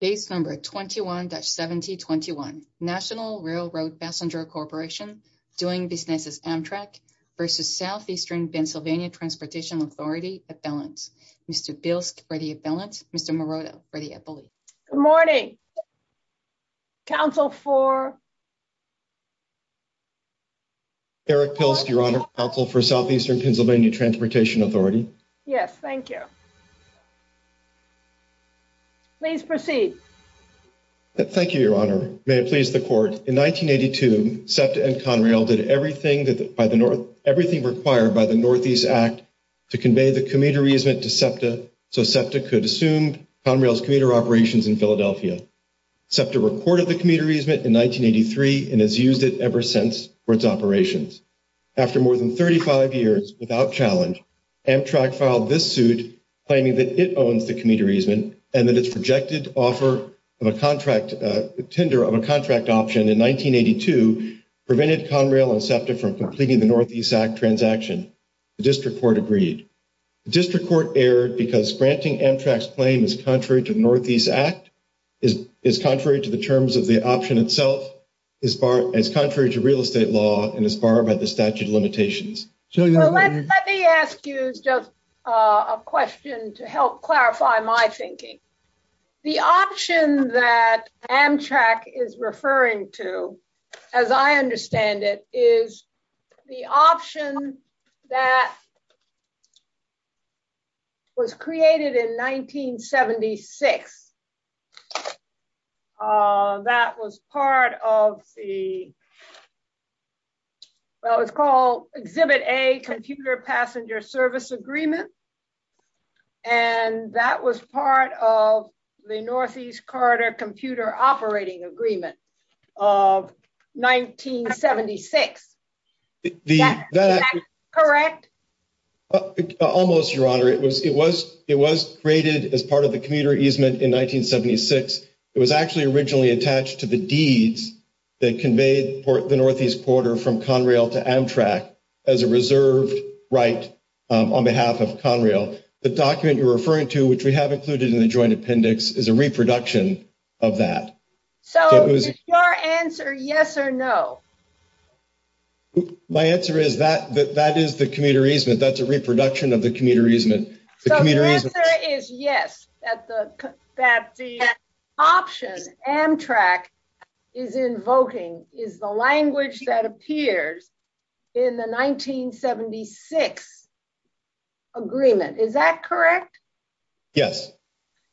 Transportation Authority. Date number 21-1721. National Railroad Passenger Corporation doing business with Amtrak versus Southeastern Pennsylvania Transportation Authority. Mr. Bielsk for the appellants. Mr. Morota for the appellants. Good morning. Counsel for... Eric Bielsk, Your Honor. Counsel for Southeastern Pennsylvania Transportation Authority. Yes, thank you. Please proceed. Thank you, Your Honor. May it please the Court. In 1982, SEPTA and Conrail did everything required by the Northeast Act to convey the commuter easement to SEPTA so SEPTA could resume Conrail's commuter operations in Philadelphia. SEPTA reported the commuter easement in 1983 and has used it ever since for its operations. After more than 35 years without challenge, Amtrak filed this suit claiming that it owns the commuter easement and that its projected offer of a contract tender on a contract option in 1982 prevented Conrail and SEPTA from completing the Northeast Act transaction. The District Court agreed. The District Court erred because granting Amtrak's claim is contrary to the Northeast Act, is contrary to the terms of the option itself, is contrary to real estate law, and is barred by the statute of limitations. Let me ask you just a question to help clarify my thinking. The option that Amtrak is referring to, as I understand it, is the option that was created in 1976. That was part of the, what was called Exhibit A, Computer Passenger Service Agreement, and that was part of the Northeast Corridor Computer Operating Agreement of 1976. Is that correct? Almost, Your Honor. It was created as part of the commuter easement in 1976. It was actually originally attached to the deeds that conveyed the Northeast Corridor from Conrail to Amtrak as a reserved right on behalf of Conrail. The document you're referring to, which we have included in the joint appendix, is a reproduction of that. So is your answer yes or no? My answer is that is the commuter easement. That's a reproduction of the commuter easement. The answer is yes, that the option Amtrak is invoking is the language that appears in the 1976 agreement. Is that correct? Yes.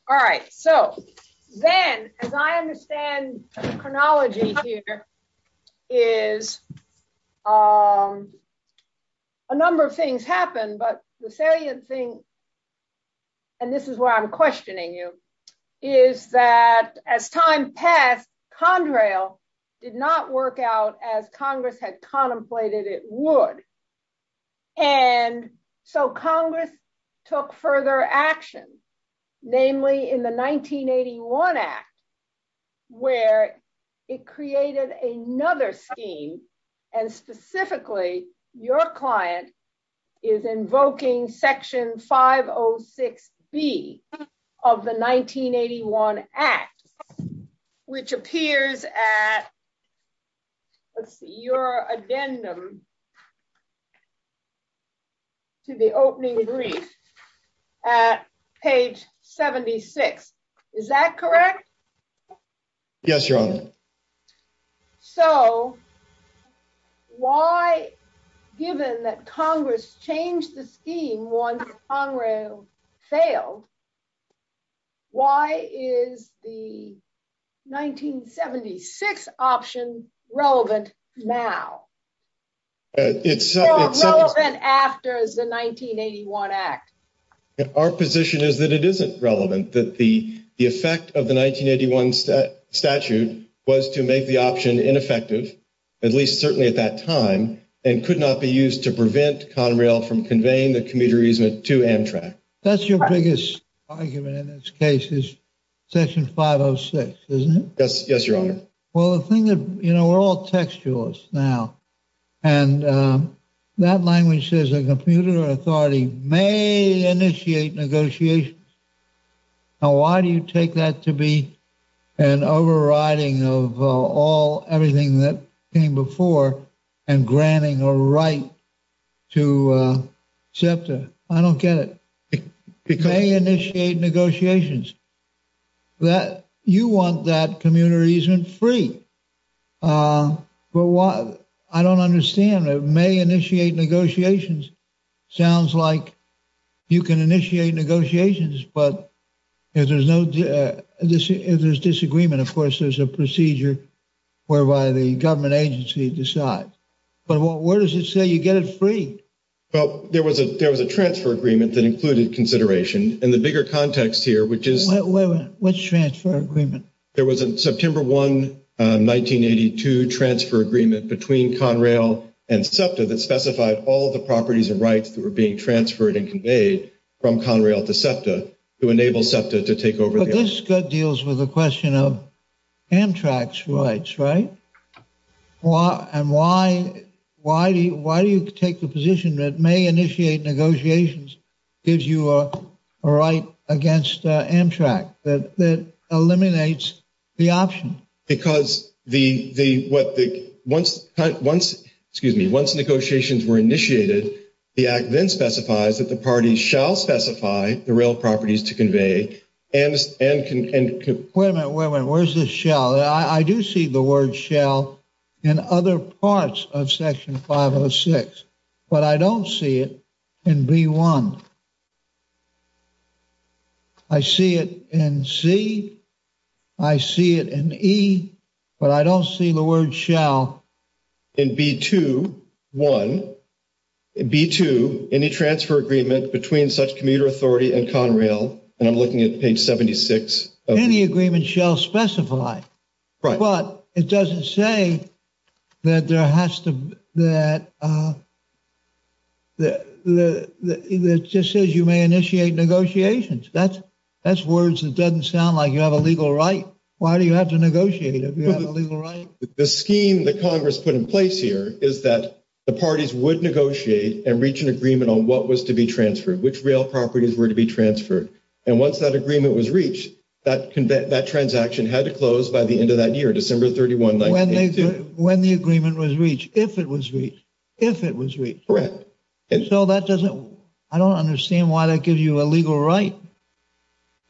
All right. Then, as I understand the chronology here is a number of things happened, but the salient thing, and this is why I'm questioning you, is that as time passed, Conrail did not work out as Congress had contemplated it would. So Congress took further action, namely in the 1981 Act, where it created another scheme, and specifically your client is invoking Section 506B of the 1981 Act, which appears at your addendum to the opening brief at page 76. Is that correct? Yes, Your Honor. So, why given that Congress changed the scheme once Conrail failed, why is the 1976 option relevant now, or relevant after the 1981 Act? Our position is that it isn't relevant, that the effect of the 1981 statute was to make the option ineffective, at least certainly at that time, and could not be used to prevent Conrail from conveying the commuter easement to Amtrak. That's your biggest argument in this case, is Section 506, isn't it? Yes, Your Honor. Well, the thing that, you know, we're all textualists now, and that language says a commuter authority may initiate negotiations. Now, why do you take that to be an overriding of all, everything that came before, and granting a right to accept a, I don't get it, it may initiate negotiations. That, you want that commuter easement free. But why, I don't understand, it may initiate negotiations. Sounds like you can initiate negotiations, but if there's disagreement, of course, there's a procedure whereby the government agency decides. But where does it say you get it free? Well, there was a transfer agreement that included consideration, and the bigger context here, which is... Wait a minute, which transfer agreement? There was a September 1, 1982 transfer agreement between Conrail and SEPTA that specified all the properties of rights that were being transferred and conveyed from Conrail to SEPTA to enable SEPTA to take over. But this deals with the question of Amtrak's rights, right? And why do you take the position that may initiate negotiations gives you a right against Amtrak, that eliminates the option? Because once negotiations were initiated, the Act then specifies that the party shall specify the real properties to convey and can... Wait a minute, where's the shall? I do see the word shall in other parts of Section 506, but I don't see it in B1. I see it in C, I see it in E, but I don't see the word shall. In B2, 1, B2, any transfer agreement between such commuter authority and Conrail, and I'm looking at page 76... Any agreement shall specify. Right. But it doesn't say that there has to... It just says you may initiate negotiations. That's all it says. It's just words. It doesn't sound like you have a legal right. Why do you have to negotiate if you have a legal right? The scheme that Congress put in place here is that the parties would negotiate and reach an agreement on what was to be transferred, which real properties were to be transferred. And once that agreement was reached, that transaction had to close by the end of that year, December 31, 1982. When the agreement was reached, if it was reached, if it was reached. Correct. So that doesn't... I don't understand why that gives you a legal right.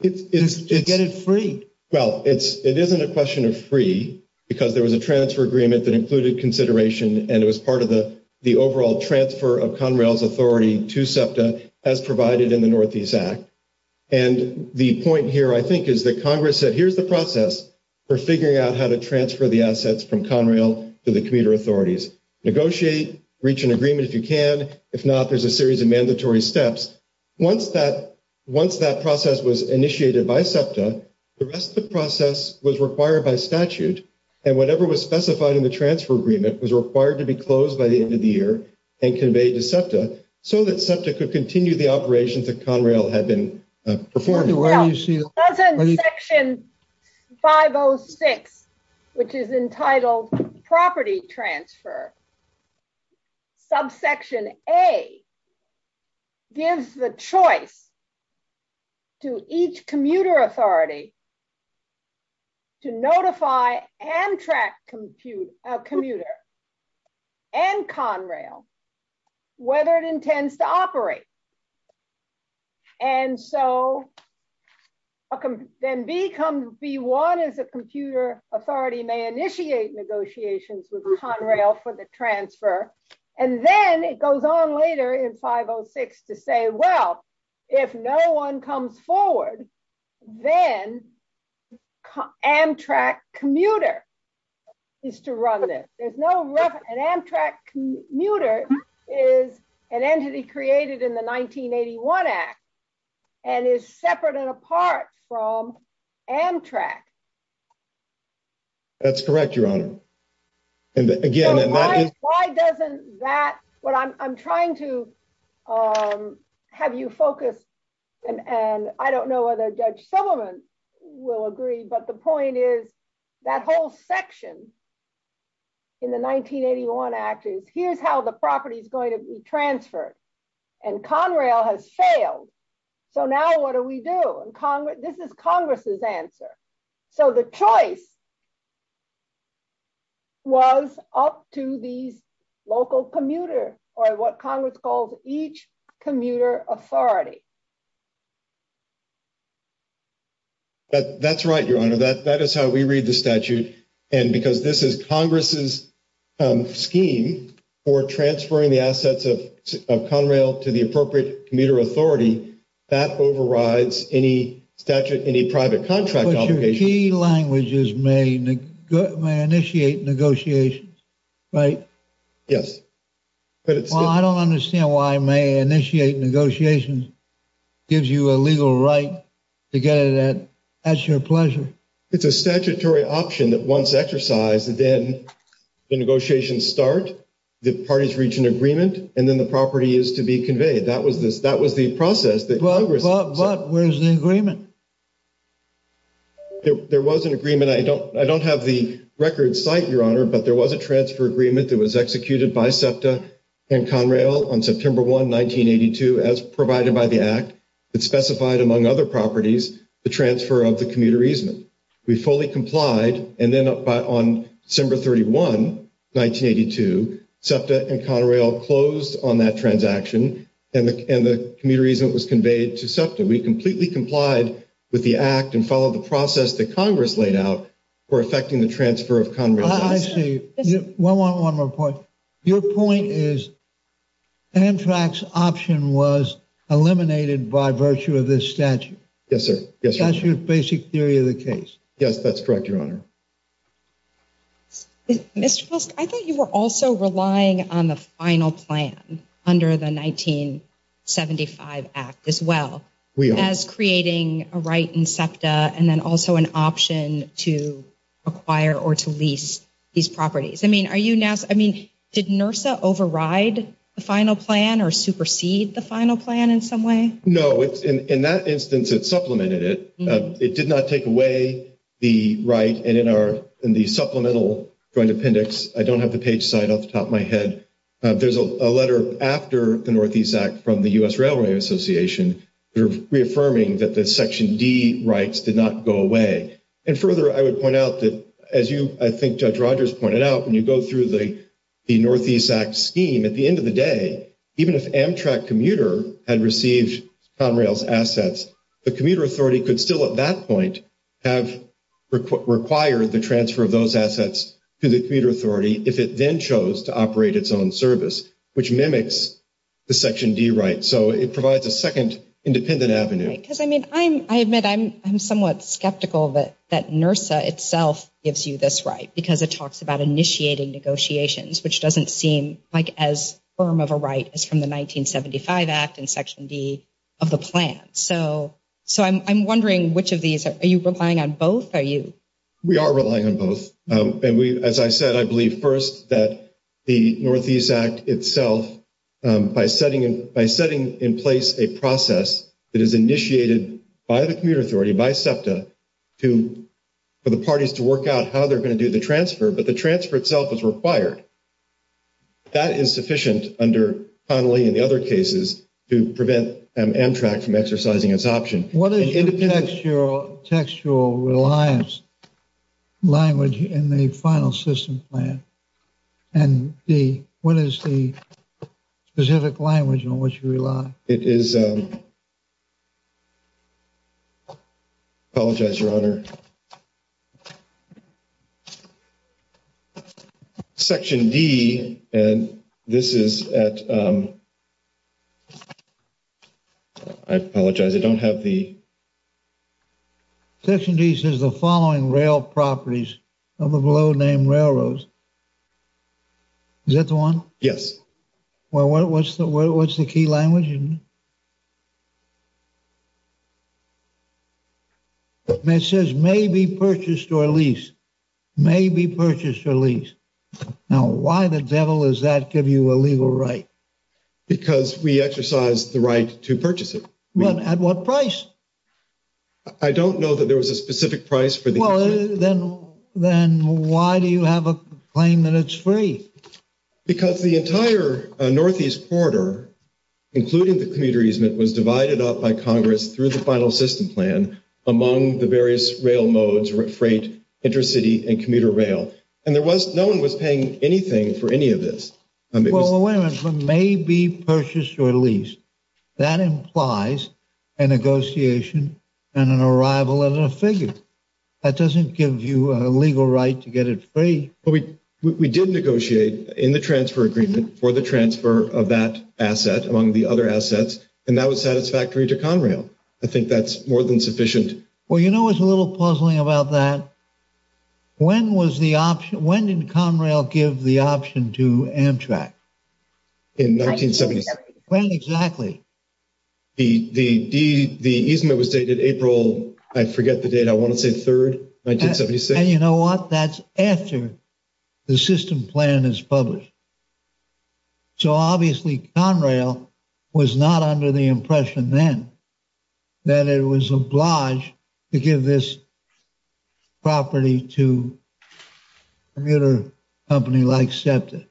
To get it free. Well, it isn't a question of free because there was a transfer agreement that included consideration, and it was part of the overall transfer of Conrail's authority to SEPTA as provided in the Northeast Act. And the point here, I think, is that Congress said, here's the process for figuring out how to transfer the assets from Conrail to the commuter authorities. Negotiate, reach an agreement if you can. If not, there's a series of mandatory steps. Once that process was initiated by SEPTA, the rest of the process was required by statute, and whatever was specified in the transfer agreement was required to be closed by the end of the year and conveyed to SEPTA so that SEPTA could continue the operations that Conrail had been performing. That's in Section 506, which is entitled Property Transfer. Subsection A gives the choice to each commuter authority to notify Amtrak commuter and Conrail whether it intends to operate. And so then B1 is the computer authority may initiate negotiations with Conrail for the transfer. And then it goes on later in 506 to say, well, if no one comes forward, then Amtrak commuter is to run this. An Amtrak commuter is an entity created in the 1981 Act and is separate and apart from Conrail. That's correct, Your Honor. Why doesn't that what I'm trying to have you focus and I don't know whether Judge Subelman will agree, but the point is that whole section in the 1981 Act is here's how the property is going to be transferred. And Conrail has failed. So what was up to the local commuter or what Congress called each commuter authority? That's right, Your Honor. That is how we read the statute. And because this is Congress's scheme for transferring the assets of Conrail to the appropriate commuter authority, that overrides any statute, any private contract. But your key languages may initiate negotiations, right? Yes. I don't understand why I may initiate negotiations. Gives you a legal right to get to that. That's your pleasure. It's a statutory option that once exercised, then the negotiations start, the parties reach an agreement, and then the property is to be conveyed. That was the process that Congress... But where's the agreement? There was an agreement. I don't have the record site, Your Honor, but there was a transfer agreement that was executed by SEPTA and Conrail on September 1, 1982 as provided by the Act. It specified, among other properties, the transfer of the commuter easement. We fully complied, and then on December 31, 1982, SEPTA and Conrail closed on that transaction, and the commuter easement was conveyed to SEPTA. We completely complied with the Act and followed the process that Congress laid out for effecting the transfer of Conrail. I see. One more point. Your point is Amtrak's option was eliminated by virtue of this statute. Yes, sir. That's your basic theory of the case. Yes, that's correct, Your Honor. Mr. Fusk, I thought you were also relying on the final plan under the 1875 Act as well as creating a right in SEPTA and then also an option to acquire or to lease these properties. I mean, did NRSA override the final plan or supersede the final plan in some way? No. In that instance, it supplemented it. It did not take away the right in the supplemental appendix. I don't have the page sign off the top of my head. There's a letter after the Northeast Act from the U.S. Railway Association reaffirming that the Section D rights did not go away. Further, I would point out that, as I think Judge Rogers pointed out, when you go through the Northeast Act scheme, at the end of the day, even if Amtrak commuter had received Conrail's assets, the commuter authority could still at that point have required the transfer of those assets to the commuter authority if it then chose to operate its own service, which mimics the Section D rights. So it provides a second independent avenue. I admit I'm somewhat skeptical that NRSA itself gives you this right because it talks about initiating negotiations, which doesn't seem like as firm of a right as from the 1975 Act and Section D of the plan. So I'm wondering, are you relying on both? We are relying on both. As I said, I believe first that the Northeast Act itself, by setting in place a process that is initiated by the commuter authority, by SEPTA, for the parties to work out how they're going to do the transfer, but the transfer itself is required. That is sufficient under Connelly and the other cases to prevent Amtrak from exercising its option. What is the textual reliance language in the final system plan? What is the specific language on which you rely? It is... I apologize, Your Honor. Section D, and this is at... I apologize. I don't have the... Section D says the following rail properties of a road named railroads. Is that the one? Yes. Well, what's the key language in it? It says, may be purchased or lease. May be purchased or lease. Now, why the devil does that give you a legal right? Because we exercise the right to purchase it. At what price? I don't know that there was a specific price for the... Then, why do you have a claim that it's free? Because the entire Northeast Corridor, including the commuter easement, was divided up by Congress through the final system plan among the various rail modes or freight, intercity, and commuter rail. And there was... no one was paying anything for any of this. Well, it went from may be purchased or lease. That implies a negotiation and an arrival of a figure. That doesn't give you a legal right to get it free. But we did negotiate in the transfer agreement for the transfer of that asset, among the other assets, and that was satisfactory to Conrail. I think that's more than sufficient. Well, you know what's a little puzzling about that? When did Conrail give the option to Amtrak? In 1973. When exactly? The easement was dated April... I forget the date. I want to say 3rd, 1976. And you know what? That's after the system plan is published. So, obviously, Conrail was not under the impression then that it was obliged to give this property to a commuter company like SEPTA.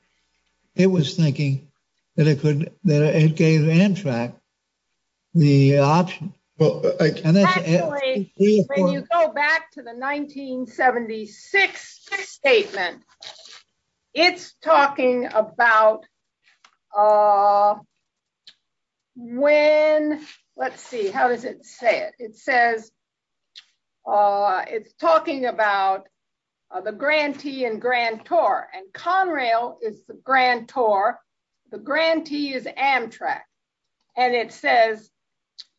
It was thinking that it gave Amtrak the option. Actually, when you go back to the 1976 statement, it's talking about when... Let's see. How does it say it? It says it's talking about the grantee and grantor. And Conrail is the grantor. The grantee is Amtrak. And it says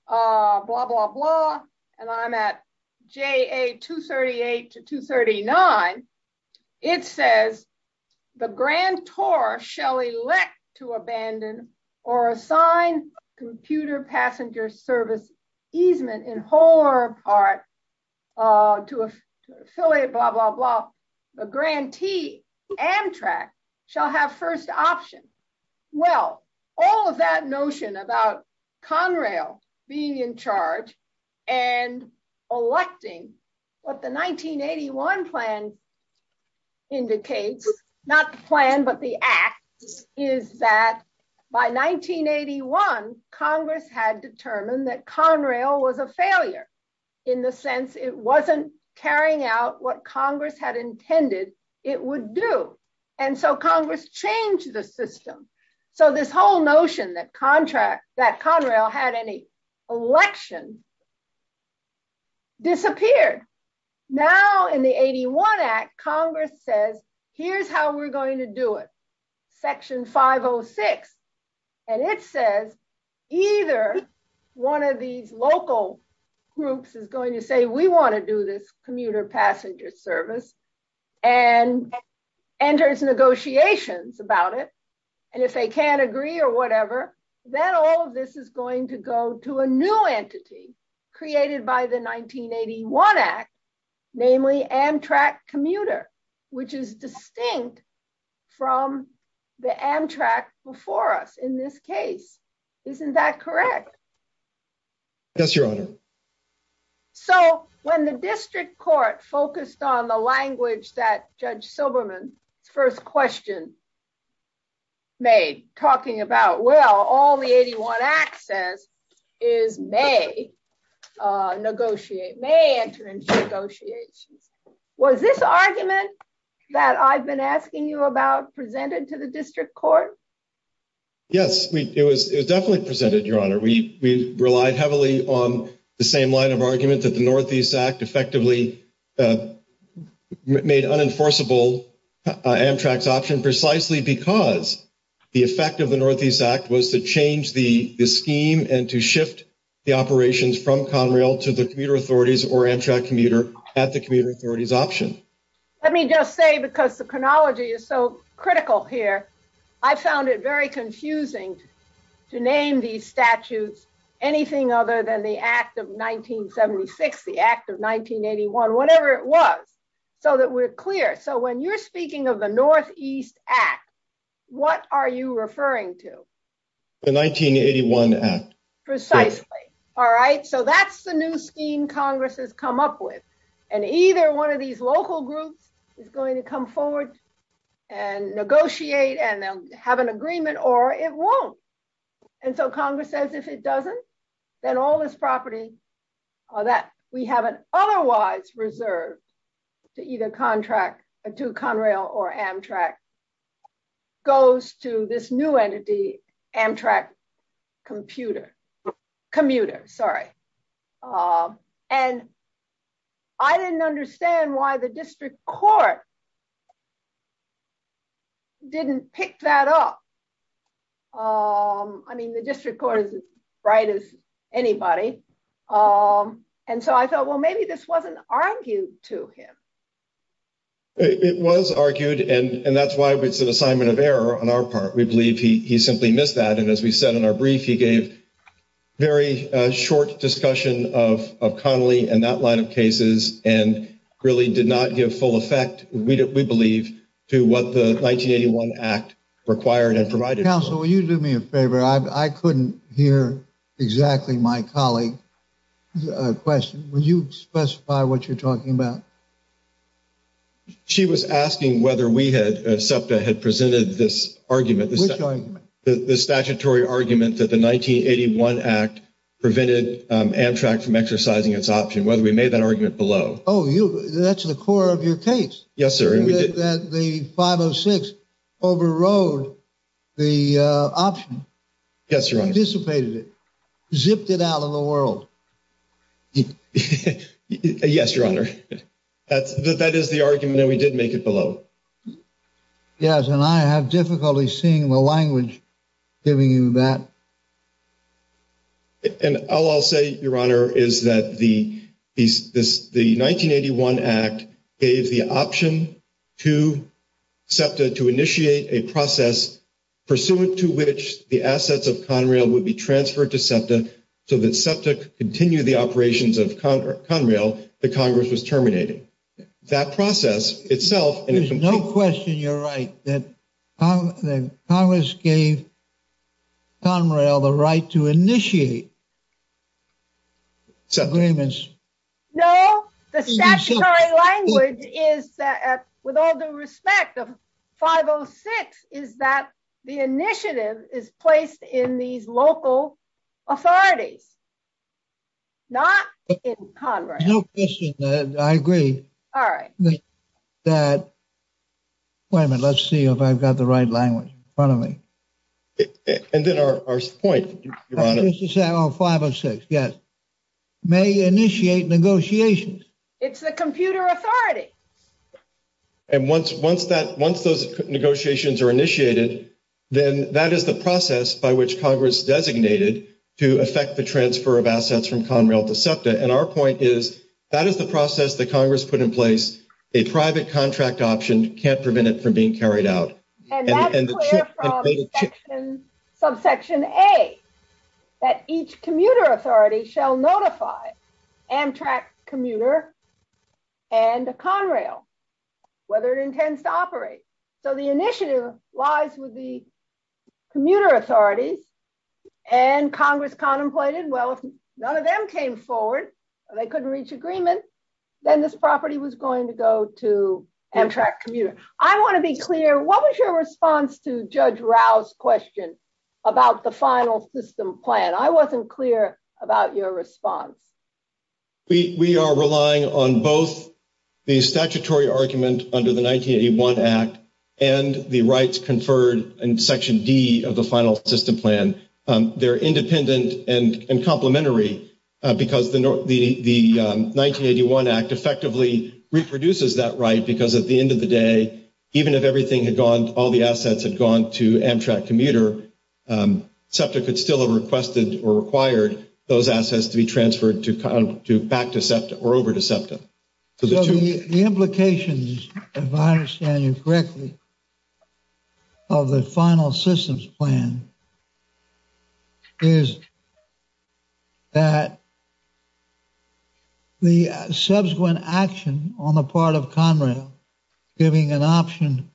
blah, blah, blah. And I'm at JA 238 to 239. It says the grantor shall elect to abandon or assign computer passenger service easement in whole or part to a facility, blah, blah, blah. The grantee, Amtrak, shall have first option. Well, all of that notion about Conrail being in charge and electing what the 1981 plan indicates, not the plan, but the act, is that by 1981, Congress had determined that Conrail was a failure in the sense it wasn't carrying out what Congress had intended it would do. And so Congress changed the system. So this whole notion that Conrail had any election disappeared. Now in the 81 Act, Congress says, here's how we're going to do it, section 506. And it says either one of these local groups is going to say, we want to do this commuter passenger service and negotiate about it. And if they can't agree or whatever, then all of this is going to go to a new entity created by the 1981 Act, namely Amtrak commuter, which is distinct from the Amtrak before us in this case. Isn't that correct? Yes, Your Honor. So when the District Court focused on the language that Judge Silberman first questioned made, talking about well, all the 81 Act says is may negotiate, may enter into negotiations. Was this argument that I've been asking you about presented to the District Court? Yes, it was definitely presented, Your Honor. We relied heavily on the same line of argument that the Northeast Act effectively made unenforceable Amtrak's option precisely because the effect of the Northeast Act was to change the scheme and to shift the operations from Conrail to the commuter authorities or Amtrak commuter at the commuter authorities option. Let me just say, because the chronology is so critical here, I found it very confusing to name these statutes anything other than the Act of 1976, the Act of 1981, whatever it was so that we're clear. So when you're speaking of the Northeast Act, what are you referring to? The 1981 Act. Precisely. All right? So that's the new scheme Congress has come up with. And either one of these local groups is going to come forward and negotiate and have an agreement or it won't. And so Congress says if it doesn't, then all this property that we have otherwise reserved to either Conrail or Amtrak goes to this new entity, Amtrak commuter. Sorry. And I didn't understand why the district court didn't pick that up. I mean, the district court is as bright as anybody. And so I thought, well, maybe this wasn't argued to him. It was argued, and that's why it's an assignment of error on our part. We believe he simply missed that. And as we said in our brief, he gave very short discussion of Connolly and that line of cases and really did not give full effect, we believe, to what the 1981 Act required and provided. Counsel, will you do me a favor? I couldn't hear exactly my colleague's question. Will you specify what you're talking about? She was asking whether we had, SEPTA, had presented this argument. Which argument? The statutory argument that the 1981 Act prevented Amtrak from exercising its option. Whether we made that argument below. Oh, you, that's the core of your case. Yes, sir. That the 506 overrode the option. Yes, Your Honor. Anticipated it. Zipped it out of the world. Yes, Your Honor. That is the argument that we did make it below. Yes, and I have difficulty seeing the language giving you that. And all I'll say, Your Honor, is that the 1981 Act gave the option to SEPTA to initiate a process pursuant to which the assets of Conrail would be transferred to SEPTA so that SEPTA could continue the operations of Conrail that Congress was terminating. That process itself... There's no question you're right that Congress gave Conrail the right to initiate its agreements. No, the statutory language is that with all due respect, the 506 is that the initiative is placed in these local authorities. Not in Conrail. No question that I agree. All right. That... That's the statutory language in front of me. And then our point, Your Honor... 506, yes. May initiate negotiations. It's the computer authority. And once those negotiations are initiated, then that is the process by which Congress designated to effect the transfer of assets from Conrail to SEPTA. And our point is that is the process that Congress put in place. A private contract option can't prevent it from being carried out. And that's clear from section A, commuter authority shall notify Amtrak's commuter and Conrail whether it intends to operate. So the initiative lies with the commuter authority, and Congress contemplated, well, if none of them came forward, or they didn't, then the property was going to go to Amtrak commuter. I want to be clear. What was your response to Judge Rao's question about the final system plan? I wasn't clear about your response. We are relying on both the statutory argument under the 1981 Act and the rights conferred in section D of the final system plan. They're independent and complementary because the 1981 Act effectively reproduces that right because at the end of the day, even if everything had gone, all the assets had gone to Amtrak commuter, SEPTA could still have requested or required those assets to be transferred back to SEPTA or over to SEPTA. The implications, if I understand you correctly, of the final systems plan is that the subsequent action on the part of Conrail giving an option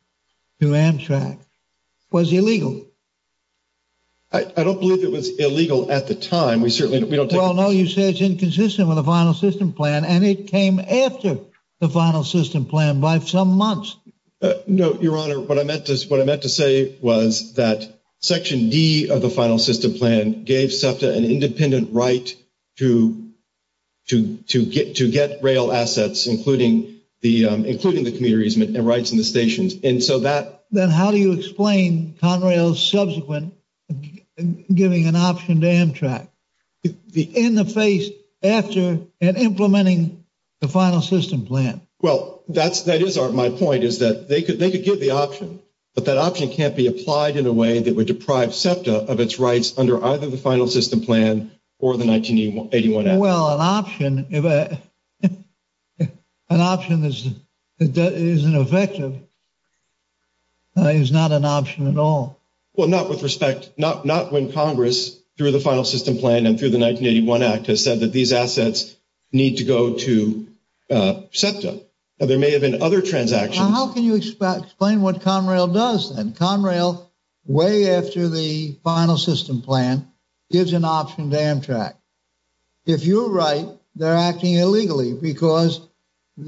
to Amtrak was illegal. I don't believe it was illegal at the time. No, you said it's inconsistent with the final system plan, and it came after the final system plan by some months. Your Honor, what I meant to say was that section D of the final system plan gave SEPTA an independent right to get rail assets, including the commuter easement and rights in the stations. How do you explain Conrail's subsequent giving an option to Amtrak in the face after implementing the final system plan? My point is that they could give the option, but that option can't be of its rights under either the final system plan or the 1981 Act. Well, an option, an option that isn't effective is not an option at all. Not with respect, not when Congress through the final system plan and through the 1981 Act has said that these assets need to go to SEPTA. There may have been other transactions. How can you explain what Conrail does then? Conrail way after the final system plan gives an option to Amtrak. If you're right, they're acting illegally because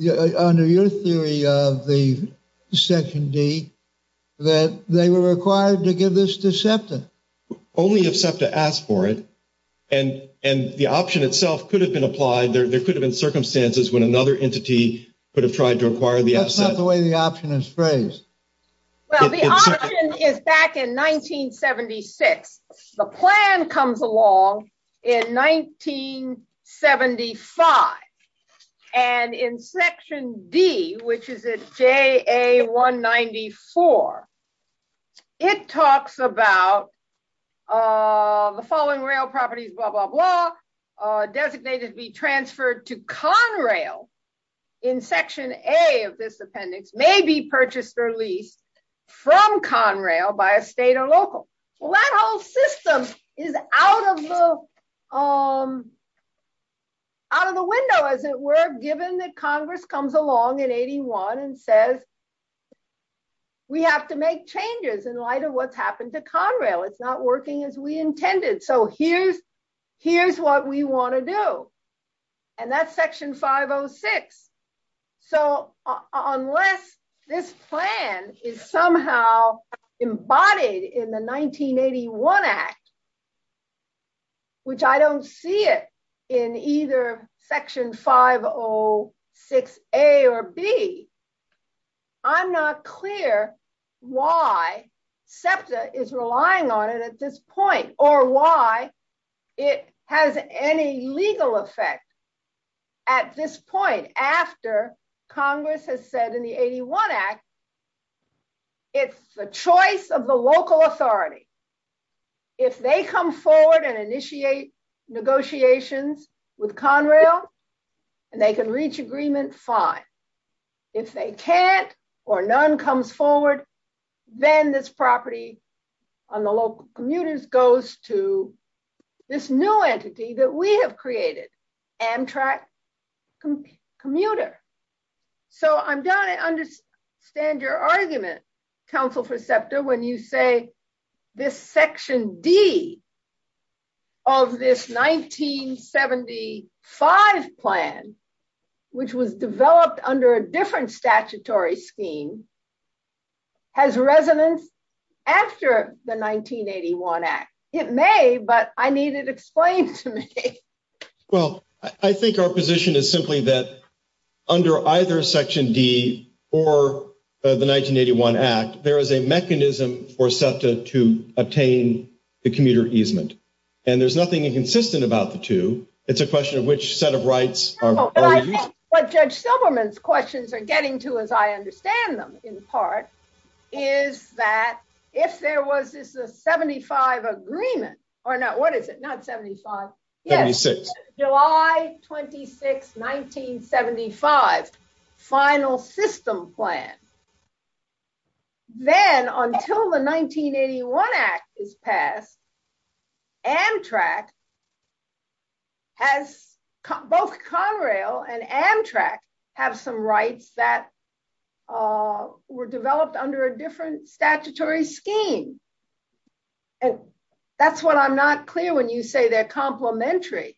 under your theory of the section D, that they were required to give this to SEPTA. Only if SEPTA asked for it, and the option itself could have been applied. There could have been circumstances when another entity could have tried to require the option. That's not the way the option is phrased. Well, the option is back in 1976. The plan comes along in 1975. And in section D, which is at JA 194, it talks about the following rail properties, blah, blah, blah, designated to be transferred to Conrail in section A of this appendix may be purchased or leased from Conrail by a state or local. Well, that whole system is out of the window, as it were, given that Congress comes along in 81 and says, we have to make changes in light of what's happened to Conrail. It's not working as we intended. Here's what we want to do. That's section 506. So, unless this plan is somehow embodied in the 1981 Act, which I don't see it in either section 506 A or B, I'm not clear why SEPTA is relying on it at this point, or why it has any legal effect at this point after Congress has said in the 81 Act it's the choice of the local authority. If they come forward and initiate negotiations with Conrail and they can reach agreement, fine. If they can't or none comes forward, then this property on the local commuters goes to this new entity that we have created, Amtrak commuter. I understand your argument, Council for SEPTA, when you say this section D of this 1975 plan, which was developed under a different statutory scheme, has resonance after the 1981 Act. It may, but I need it explained to me. I think our position is simply that under either section D or the 1981 Act, there is a mechanism for SEPTA to obtain the commuter easement. There's nothing inconsistent about the two, it's a question of which set of rights are used. What Judge Silverman's questions are getting to as I understand them, in part, is that if there was a 75 agreement, or not, what is it, not 75, July 26, 1975 final system plan, then until the 1981 Act is passed, Amtrak has both Conrail and Amtrak have some rights that were in the scheme. That's what I'm not clear when you say they're complementary.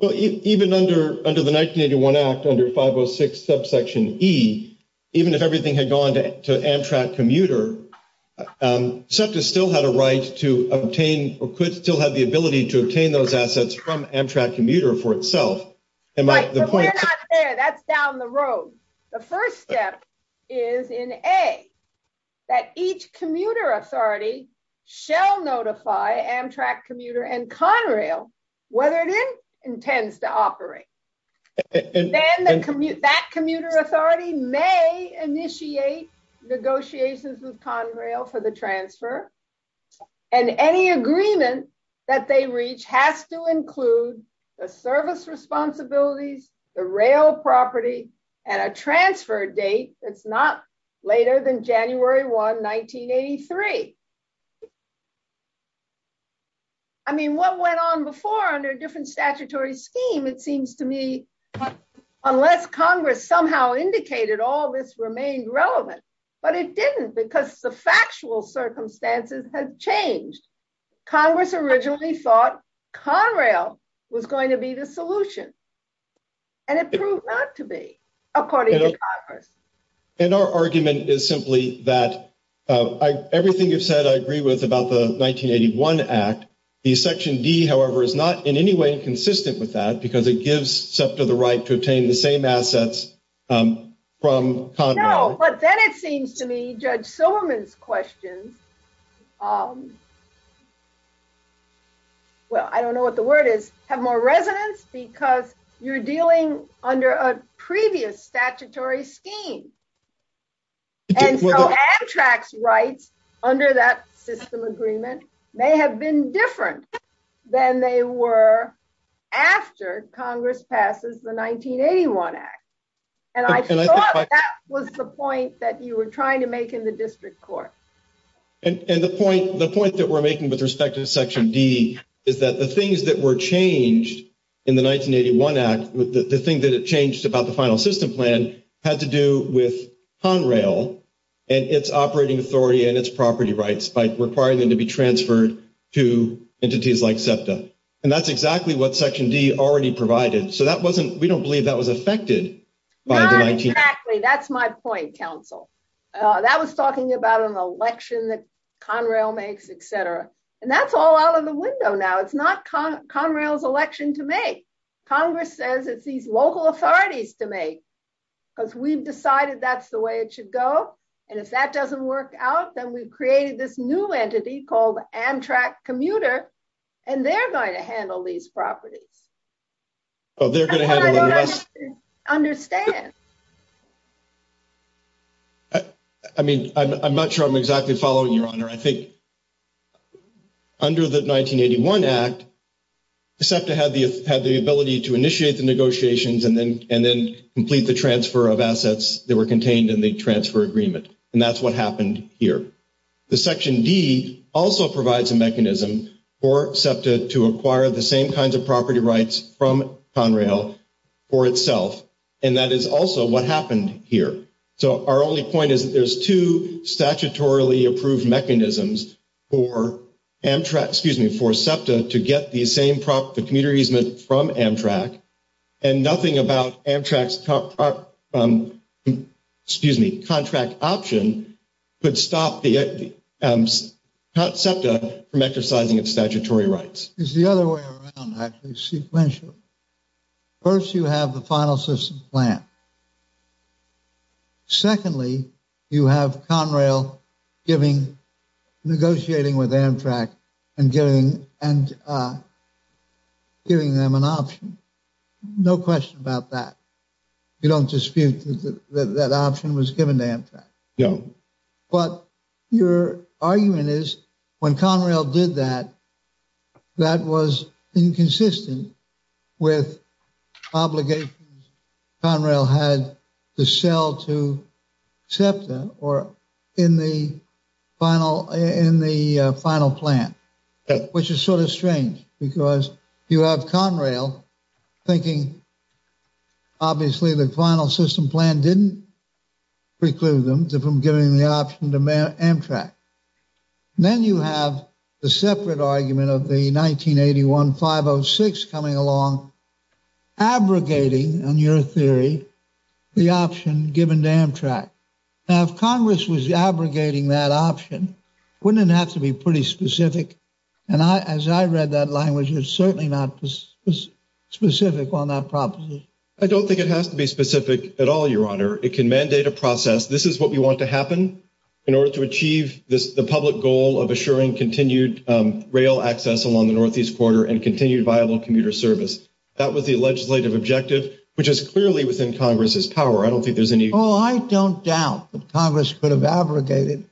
Even under the 1981 Act, under 506 subsection E, even if everything had gone to Amtrak commuter, SEPTA still had a right to obtain or could still have the ability to obtain those assets from Amtrak commuter for itself. That's down the road. The first step is in A, that each commuter authority shall notify Amtrak commuter and Conrail whether it intends to operate. Then that commuter authority may initiate negotiations with Conrail for the transfer, and any agreement that they reach has to include the service responsibilities, the rail property, and a transfer date that's not later than January 1, 1983. I mean, what went on before under a different statutory scheme it seems to me, unless Congress somehow indicated all this remained relevant, but it didn't because the factual circumstances have changed. Congress originally thought Conrail was going to be the solution, and it proved not to be according to Congress. And our argument is simply that everything you've said I agree with about the 1981 Act. The Section D, however, is not in any way consistent with that because it gives SEPTA the right to obtain the same assets from Conrail. No, but then it seems to me Judge Silliman's question, well, I don't know what the word is, have more resonance because you're dealing under a previous statutory scheme. And so abstract rights under that system agreement may have been different than they were after Congress passes the 1981 Act. And I thought that was the point that you were trying to make in the District Court. And the point that we're making with respect to Section D is that the things that were changed in the 1981 Act, the thing that it changed about the final system plan had to do with Conrail and its operating authority and its property rights by requiring them to be transferred to entities like SEPTA. And that's exactly what Section D already provided. So we don't believe that was affected by the 1981 Act. Exactly. That's my point, counsel. That was talking about an election that Conrail makes, etc. And that's all out of the window now. It's not Conrail's election to make. Congress says it's these local authorities to make because we've decided that's the way it should go. And if that doesn't work out, then we've created this new entity called Amtrak Commuter, and they're going to handle these properties. So they're going to handle the rights? I don't understand. I mean, I'm not sure I'm exactly following, Your Honor. I think under the 1981 Act, SEPTA had the ability to initiate the negotiations and then complete the transfer of assets that were contained in the transfer agreement. And that's what happened here. The Section D also provides a mechanism for SEPTA to acquire the same kinds of property rights from Conrail for itself. And that is also what happened here. So our only point is that there's two statutorily approved mechanisms for SEPTA to get the same property from Amtrak and nothing about Amtrak's contract option could stop SEPTA from exercising its statutory rights. It's the other way around, actually, sequentially. First, you have the Final Assistance Plan. Secondly, you have Conrail negotiating with Amtrak and giving them an option. No question about that. You don't dispute that option was given to Amtrak. But your argument is when Conrail did that, that was inconsistent with obligations Conrail had to sell to SEPTA or in the Final Plan, which is sort of strange because you have Conrail thinking obviously the Final Assistance Plan didn't preclude them from giving the option to Amtrak. Then you have the separate argument of the 1981-506 coming along abrogating, in your theory, the option given to Amtrak. Now, if Congress was abrogating that option, wouldn't it have to be pretty specific? As I read that language, it's certainly not specific on that proposition. I don't think it has to be specific at all, Your Honor. It can mandate a process. This is what we want to happen in order to achieve the public goal of assuring continued rail access along the northeast border and continued viable commuter service. That was the legislative objective, which is clearly within Congress's power. I don't think there's any... Oh, I don't doubt that Congress could have abrogated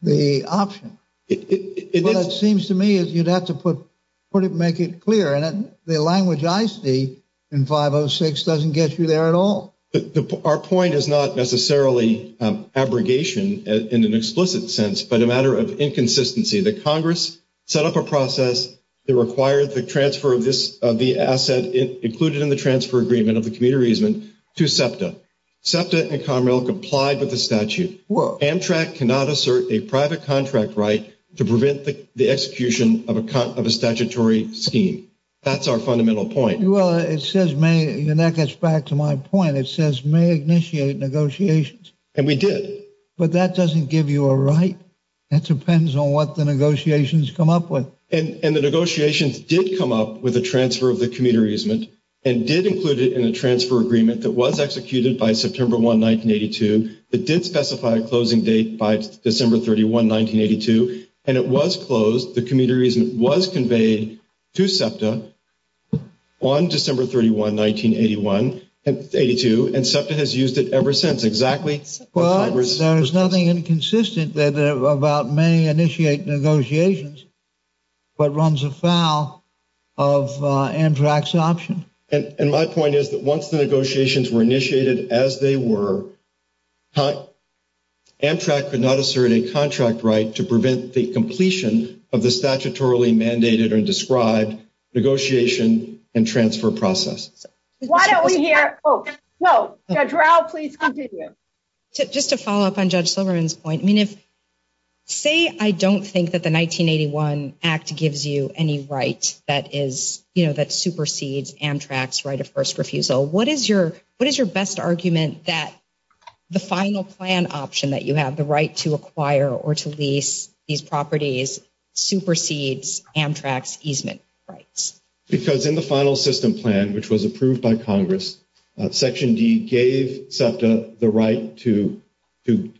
the option. It seems to me that you'd have to make it clear and the language I see in 506 doesn't get you there at all. Our point is not necessarily abrogation in an explicit sense, but a matter of inconsistency. The Congress set up a process that required the transfer of the asset included in the transfer agreement of the commuter easement to SEPTA. SEPTA and Conrail complied with the statute. Amtrak cannot assert a private contract right to prevent the execution of a statutory scheme. That's our fundamental point. Your neck gets back to my point. It says may initiate negotiations. And we did. But that doesn't give you a right. It depends on what the negotiations come up with. And the negotiations did come up with a transfer of the commuter easement and did include it in the transfer agreement that was executed by September 1, 1982. It did specify a closing date by December 31, 1982. And it was closed. The commuter easement was conveyed to SEPTA on December 31, 1981. And SEPTA has used it ever since. Exactly. Well, there's nothing inconsistent about may initiate negotiations but runs afoul of Amtrak's option. And my point is that once the negotiations were initiated as they were, Amtrak could not assert a contract right to prevent the completion of the statutorily mandated and described negotiation and transfer process. Why don't we hear Judge Rao, please continue. Just to follow up on Judge Silverman's point, say I don't think that the 1981 Act gives you any right that supersedes Amtrak's right of first refusal. What is your best argument that the final plan option that you have, the right to acquire or to lease these properties supersedes Amtrak's easement rights? Because in the final system plan, which was approved by Congress, Section D gave SEPTA the right to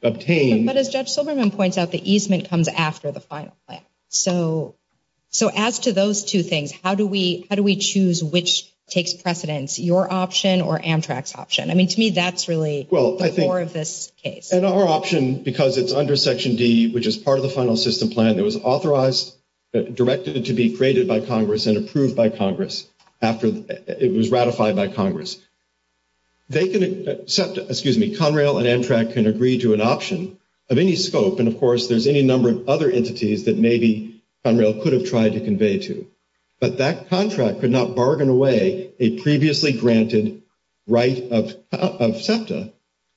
obtain... But as Judge Silverman points out, the easement comes after the final plan. So as to those two things, how do we choose which takes precedence? Your option or Amtrak's option? I mean, to me, that's really more of this case. And our option, because it's under Section D, which is part of the final system plan, was authorized directly to be created by Congress and approved by Congress after it was ratified by Congress. Conrail and Amtrak can agree to an option of any scope. And of course, there's any number of other entities that maybe Conrail could have tried to convey to. But that contract could not bargain away a previously granted right of SEPTA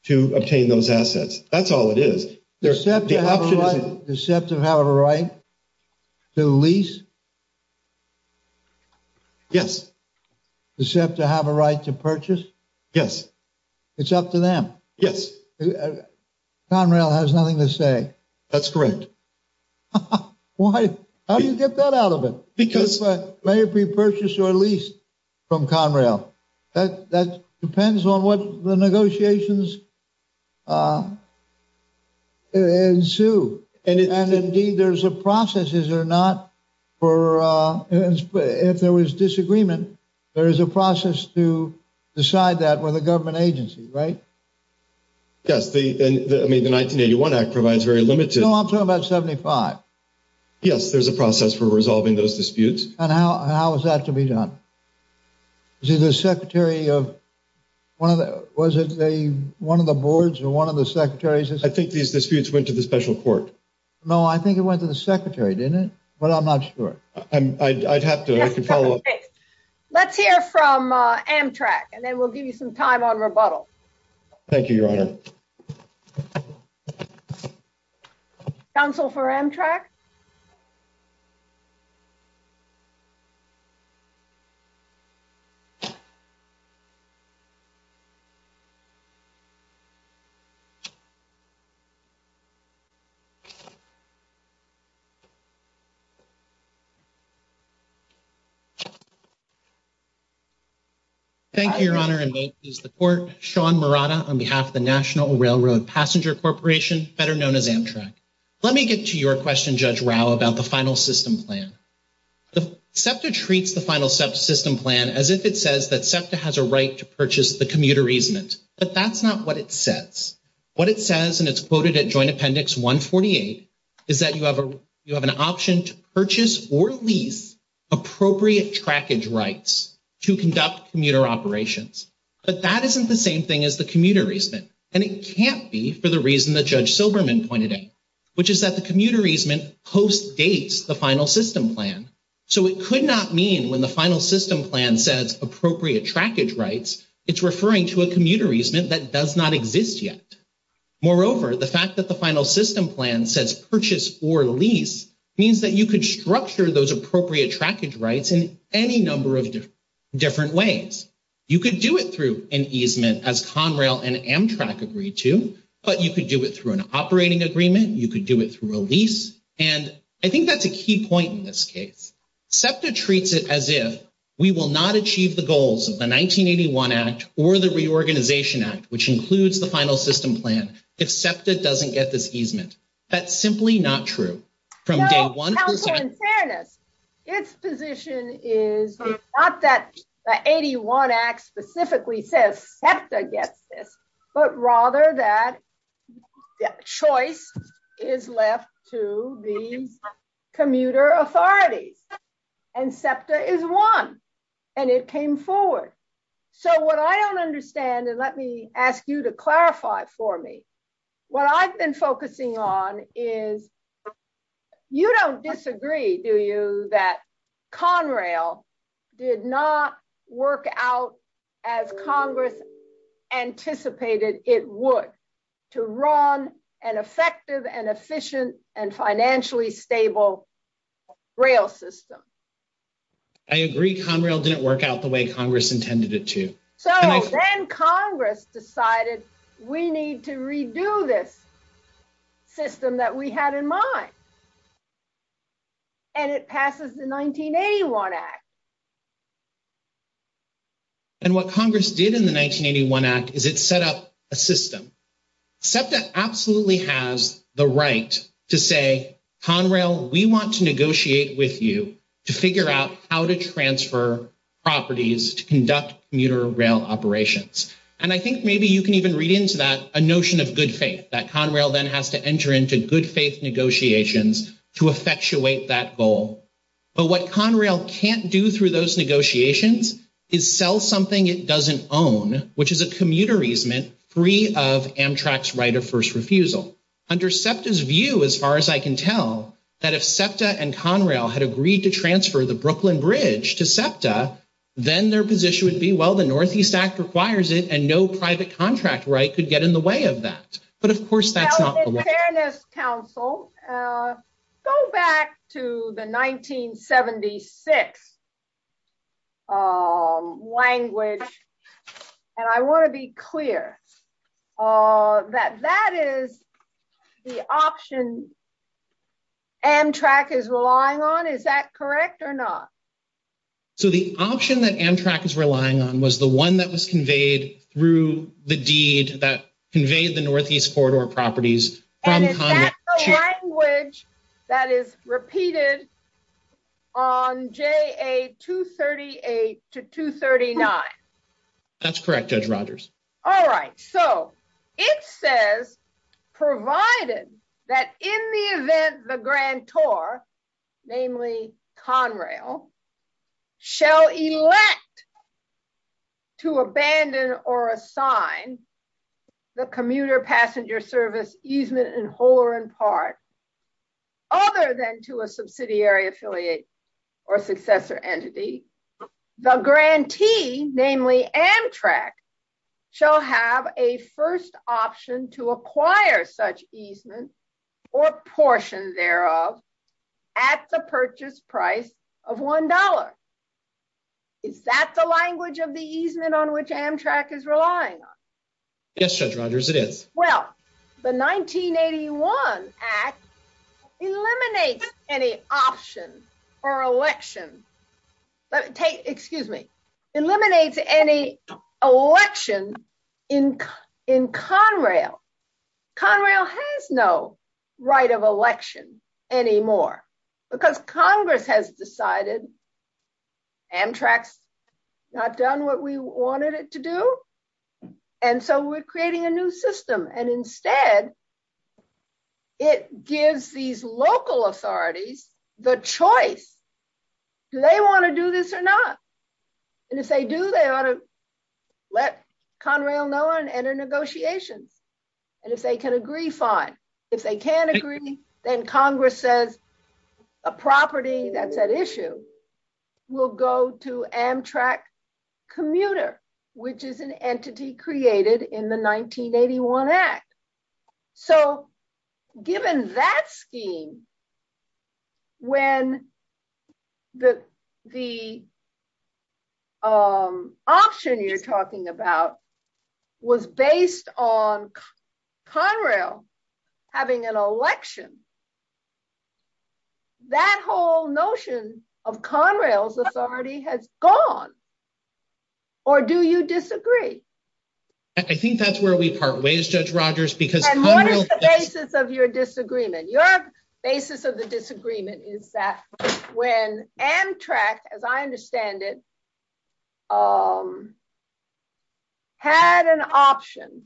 to obtain those assets. That's all it is. Does SEPTA have a right? Does SEPTA have a right to lease? Yes. Does SEPTA have a right to purchase? Yes. It's up to them. Yes. Conrail has nothing to say. That's correct. Why? How do you get that out of it? Because may it be purchased or leased from Conrail? That depends on what the negotiations ensue. And indeed, there's a process, is there not, for if there was disagreement, there is a process to decide that with a government agency, right? Yes. The 1981 Act provides very limited... No, I'm talking about 75. Yes, there's a process for resolving those disputes. And how is that to be done? Is it the secretary of... Was it one of the boards or one of the secretaries... I think these disputes went to the special court. No, I think it went to the secretary, didn't it? But I'm not sure. I'd have to follow up. Let's hear from Amtrak and then we'll give you some time on rebuttal. Thank you, Your Honor. Counsel for Amtrak? Thank you, Your Honor. Thank you, Your Honor. And may it please the court, Sean Murata on behalf of the National Railroad Passenger Corporation, better known as Amtrak. Let me get to your question, Judge Rao, about the final system plan. SEPTA treats the final system plan as if it says that SEPTA has a right to purchase or lease appropriate trackage rights to conduct commuter operations. But that isn't the same thing as the commuter easement. And it can't be for the reason that Judge Silberman pointed out, which is that the commuter easement postdates the final system plan. So it could not mean when the final system plan says appropriate trackage rights, it's referring to a commuter easement that does not exist yet. Moreover, the fact that the final system plan says purchase or lease means that you could structure those appropriate trackage rights in any number of different ways. You could do it through an easement as Conrail and Amtrak agreed to, but you could do it through an operating agreement, you could do it through a lease, and I think that's a key point in this case. SEPTA treats it as if we will not achieve the goals of the 1981 Act or the Reorganization Act, which includes the final system plan, if SEPTA doesn't get this easement. That's simply not true. From day one... Its position is not that the 81 Act specifically says SEPTA gets it, but rather that choice is left to the commuter authorities. And SEPTA is one. And it came forward. So what I don't understand, and let me ask you to clarify for me. What I've been focusing on is you don't disagree, do you, that Conrail did not work out as Congress anticipated it would to run an effective and efficient and financially stable rail system. I agree Conrail didn't work out the way Congress intended it to. So then Congress decided we need to redo this system that we had in mind. And it passes the 1981 Act. And what Congress did in the 1981 Act is it set up a system. SEPTA absolutely has the right to say, Conrail, we want to negotiate with you to figure out how to transfer properties to conduct commuter rail operations. And I think maybe you can even read into that a notion of good faith, that Conrail then has to enter into good faith negotiations to effectuate that goal. But what Conrail can't do through those negotiations is sell something it doesn't own, which is a commuter easement free of Amtrak's right of first refusal. Under SEPTA's view, as far as I can tell, that if SEPTA and Conrail had agreed to transfer the Brooklyn Bridge to SEPTA, then their position would be, well, the Northeast Act requires it and no private contract right could get in the way of that. But of course that's not the way. Go back to the 1976 language, and I want to be clear that that is the option Amtrak is relying on. Is that correct or not? So the option that Amtrak is relying on was the one that was conveyed through the deed that conveyed the Northeast Corridor properties. And is that the language that is repeated on JA 238 to 239? That's correct, Judge Rogers. All right. So it says provided that in the event the grantor, namely Conrail, shall elect to abandon or assign the commuter passenger service easement in Holeran Park other than to a subsidiary affiliate or successor entity, the grantee, namely Amtrak, shall have a first option to acquire such easement or portions thereof at the purchase price of $1. Is that the language of the easement on which Amtrak is relying on? Yes, Judge Rogers, it is. Well, the 1981 Act eliminates any option or election excuse me, eliminates any election in Conrail. Conrail has no right of election anymore because Congress has decided Amtrak has not done what we wanted it to do and so we're creating a new system and instead it gives these local authorities the choice. Do they want to do this or not? And if they do, they ought to let Conrail know and enter negotiations. And if they can agree, fine. If they can't agree, then Congress says a property that's at issue will go to Amtrak commuter, which is an entity created in the 1981 Act. So given that scheme when the the option you're talking about was based on Conrail having an election, that whole notion of Conrail's authority has gone. Or do you disagree? I think that's where we part ways, Judge Rogers, because Conrail And what is the basis of your disagreement? Your basis of the disagreement is that when Amtrak as I understand it had an option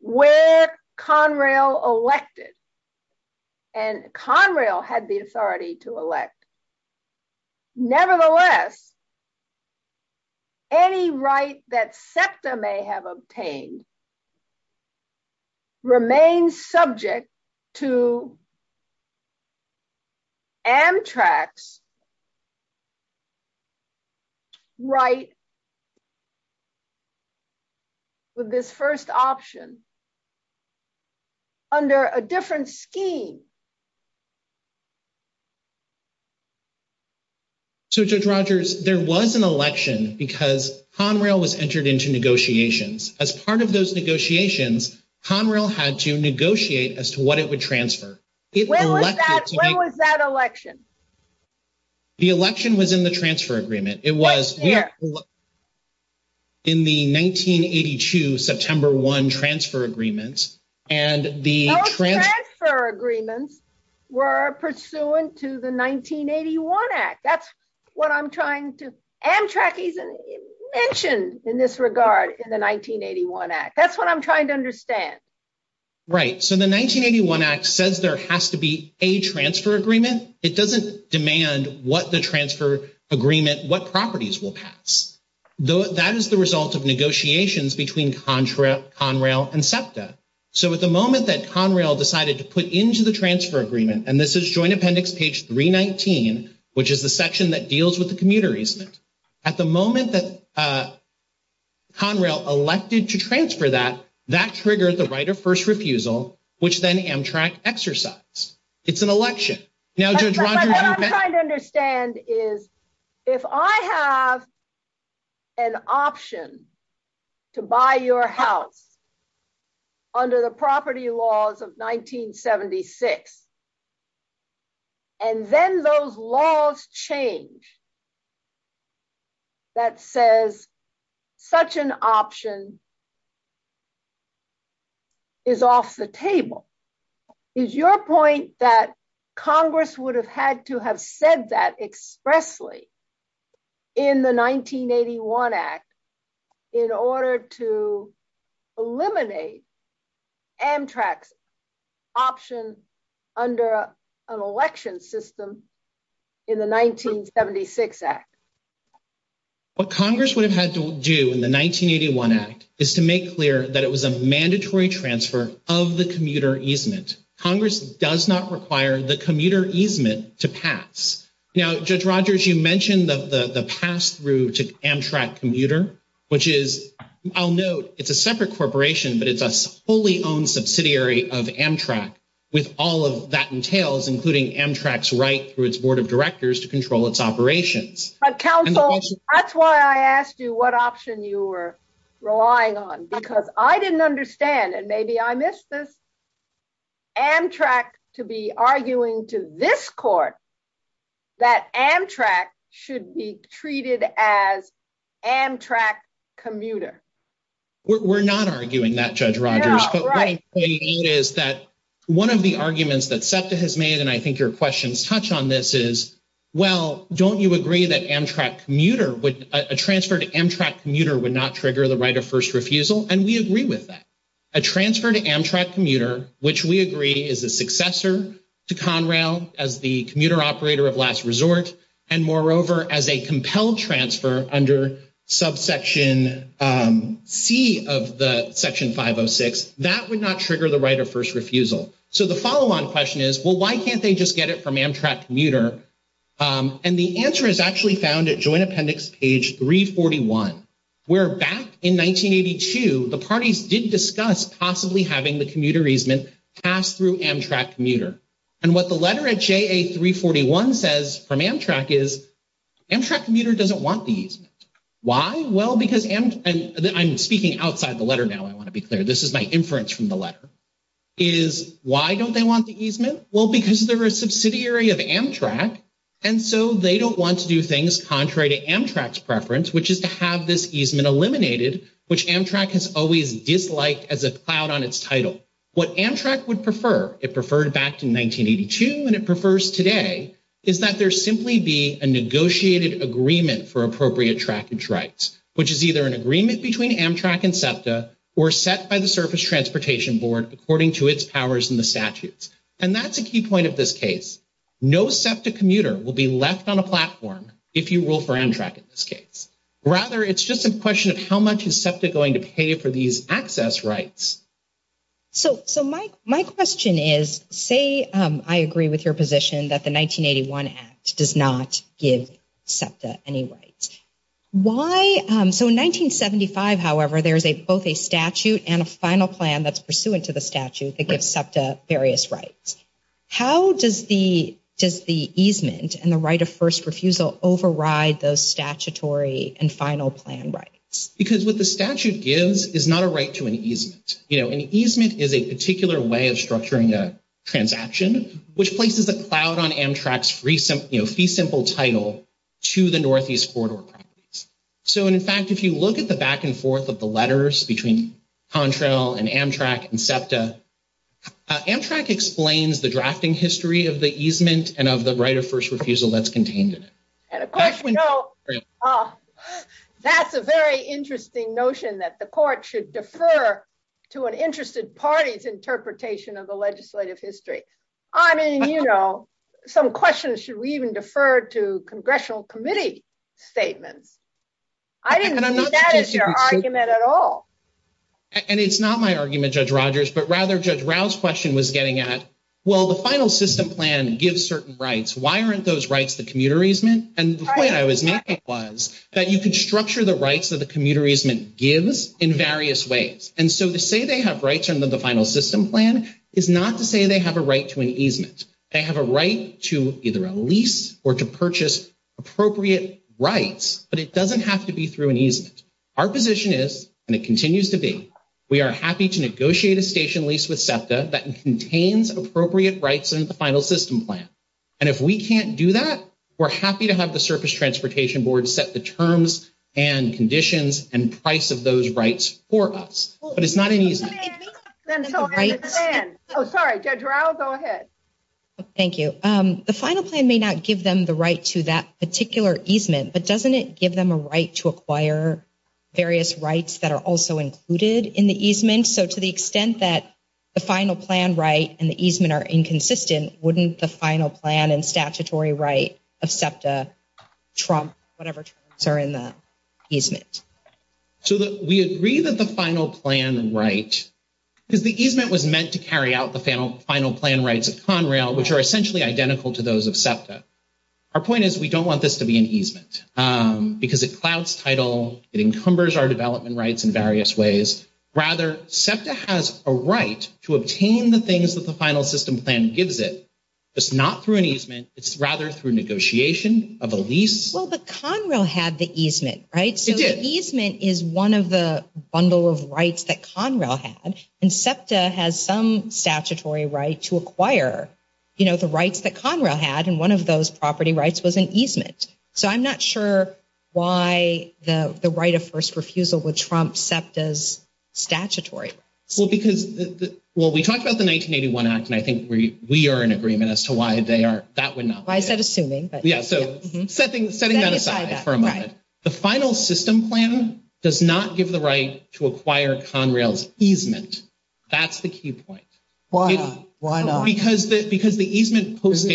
where Conrail elected and Conrail had the authority to elect, nevertheless any right that SEPTA may have obtained remains subject to Amtrak's right with this first option under a different scheme. So Judge Rogers, there was an election because Conrail was entered into negotiations. As part of those negotiations, Conrail had to negotiate as to what it would transfer. When was that election? The election was in the transfer agreement. It was in the 1982 September 1 transfer agreement. All transfer agreements were pursuant to the 1981 Act. That's what I'm trying to... Amtrak isn't mentioned in this regard in the 1981 Act. That's what I'm trying to understand. Right. So the 1981 Act says there has to be a transfer agreement. It doesn't demand what the transfer agreement, what properties will pass. That is the result of negotiations between Conrail and SEPTA. So at the moment that Conrail decided to put into the transfer agreement, and this is Joint Appendix page 319, which is the section that deals with the commuter easement, at the moment that Conrail elected to transfer that, that triggered the right of first refusal, which then Amtrak exercised. It's an election. Now Judge Rogers... What I'm trying to understand is if I have an option to buy your house under the property laws of 1976 and then those laws change that says such an option is off the table. Is your point that Congress would have had to have said that expressly in the 1981 Act in order to eliminate Amtrak's option under an election system in the 1976 Act? Well, Congress would have had to do in the 1981 Act is to make clear that it was a mandatory transfer of the commuter easement. Congress does not require the commuter easement to pass. Now, Judge Rogers, you mentioned the pass-through to Amtrak commuter, which is I'll note, it's a separate corporation but it's a fully owned subsidiary of Amtrak with all of that entails, including Amtrak's right through its board of directors to control its operations. Council, that's why I asked you what option you were relying on because I didn't understand, and maybe I missed this, Amtrak to be arguing to this court that Amtrak should be treated as Amtrak commuter. We're not arguing that, Judge Rogers, but what I'm saying is that one of the arguments that SEPTA has made, and I think your questions touch on this, is, well, don't you agree that Amtrak commuter would, a transfer to Amtrak commuter would not trigger the right of first refusal? And we agree with that. A transfer to Amtrak commuter, which we agree is a successor to Conrail as the commuter operator of last resort, and moreover, as a compelled transfer under subsection C of the section 506, that would not trigger the right of first refusal. So the follow-on question is, well, why can't they just get it from Amtrak commuter? And the answer is actually found at Joint Appendix page 341, where back in 1982, the parties did discuss possibly having the commuter easement passed through Amtrak commuter. And what the letter at JA341 says from Amtrak is, Amtrak commuter doesn't want the easement. Why? Well, because Amtrak, and I'm speaking outside the letter now, I want to be clear. This is my inference from the letter, is, why don't they want the easement? Well, because they're a subsidiary of Amtrak, and so they don't want to do things contrary to Amtrak's preference, which is to have this easement eliminated, which Amtrak has always disliked as a cloud on its title. What Amtrak would prefer, it preferred back in 1982, and it prefers today, is that there simply be a negotiated agreement for appropriate traffic rights, which is either an agreement between Amtrak and SEPTA, or set by the Surface Transportation Board, according to its powers in the statute. And that's a key point of this case. No SEPTA commuter will be left on a platform if you rule for Amtrak in this case. Rather, it's just a question of how much is SEPTA going to pay for these access rights. So my question is, say I agree with your position that the 1981 SEPTA any rights. So in 1975, however, there's both a statute and a final plan that's pursuant to the statute that gives SEPTA various rights. How does the easement and the right of first refusal override those statutory and final plan rights? Because what the statute gives is not a right to an easement. An easement is a particular way of structuring a transaction, which places a cloud on Amtrak's fee simple title to the Northeast border. So in fact, if you look at the back of the statute, it says SEPTA, Contrail, and Amtrak and SEPTA. Amtrak explains the drafting history of the easement and of the right of first refusal that's contained. That's a very interesting notion that the court should defer to an interested party's interpretation of the legislative history. I mean, you know, some questions should we even defer to and it's not my argument, Judge Rogers, but rather Judge Rao's question was getting at well, the final system plan gives certain rights. Why aren't those rights the commuter easement? And the point I was making was that you can structure the rights that the commuter easement gives in various ways. And so to say they have rights under the final system plan is not to say they have a right to an easement. They have a right to either a lease or to purchase appropriate rights, but it doesn't have to be through an easement. Our position is, and it continues to be, we are happy to negotiate a station lease with SEPTA that contains appropriate rights in the final system plan. And if we can't do that, we're happy to have the Surface Transportation Board set the terms and conditions and price of those rights for us. But it's not an easement. Oh, sorry, Judge Rao, go ahead. Thank you. The final plan may not give them the right to that particular easement, but doesn't it give them a right to acquire various rights that are also included in the easement? So to the extent that the final plan right and the easement are inconsistent, wouldn't the final plan and statutory right of SEPTA trump whatever terms are in the easement? So we agree that the final plan right, because the easement was meant to carry out the final plan rights of Conrail, which are essentially identical to those of SEPTA. Our point is we don't want this to be an easement, because it clouds title, it encumbers our development rights in various ways. Rather, SEPTA has a right to obtain the things that the final system plan gives it. It's not through an easement, it's rather through negotiation of a lease. Well, but Conrail had the easement, right? So the easement is one of the bundle of rights that Conrail had, and SEPTA has some statutory right to acquire the rights that Conrail had, and one of those property rights was an easement. So I'm not sure why the right of first refusal would trump SEPTA's statutory right. Well, we talked about the 1981 Act, and I think we are in agreement as to why that would not work. Setting that aside for a moment, the final system plan does not give the right to acquire Conrail's easement. That's the key point. Why not? Because the easement.......................................... The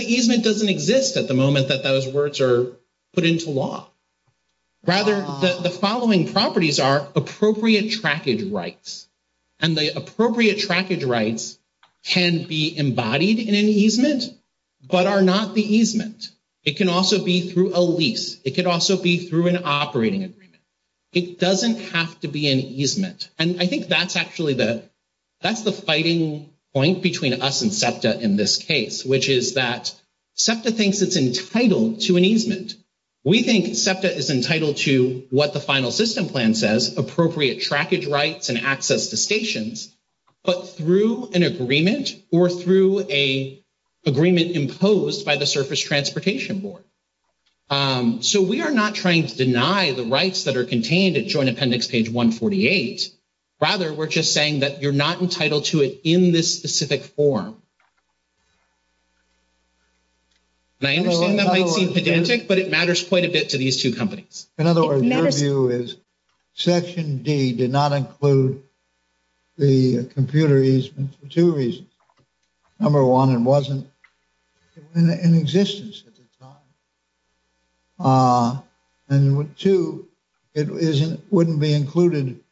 easement doesn't exist at the moment that those words are put into law. Rather, the following properties are appropriate trackage rights, and the appropriate trackage rights can be embodied in an easement but are not the easement. It can also be through a lease. It could also be through an operating agreement. It doesn't have to be an easement, and I think that's actually the, that's the fighting point between us and SEPTA in this case, which is that SEPTA thinks it's entitled to an easement. We think SEPTA is entitled to what the final system plan says, appropriate trackage rights and access to stations, but through an agreement or through a agreement imposed by the Surface Transportation Board. So we are not trying to deny the rights that are contained in Joint Appendix page 148. Rather, we're just saying that you're not entitled to it in this specific form. I understand that might be pedantic, but it matters quite a bit to these two companies. In other words, my view is Section D did not include the computer easement for two reasons. Number one, it wasn't in existence at the time. And two, it wouldn't be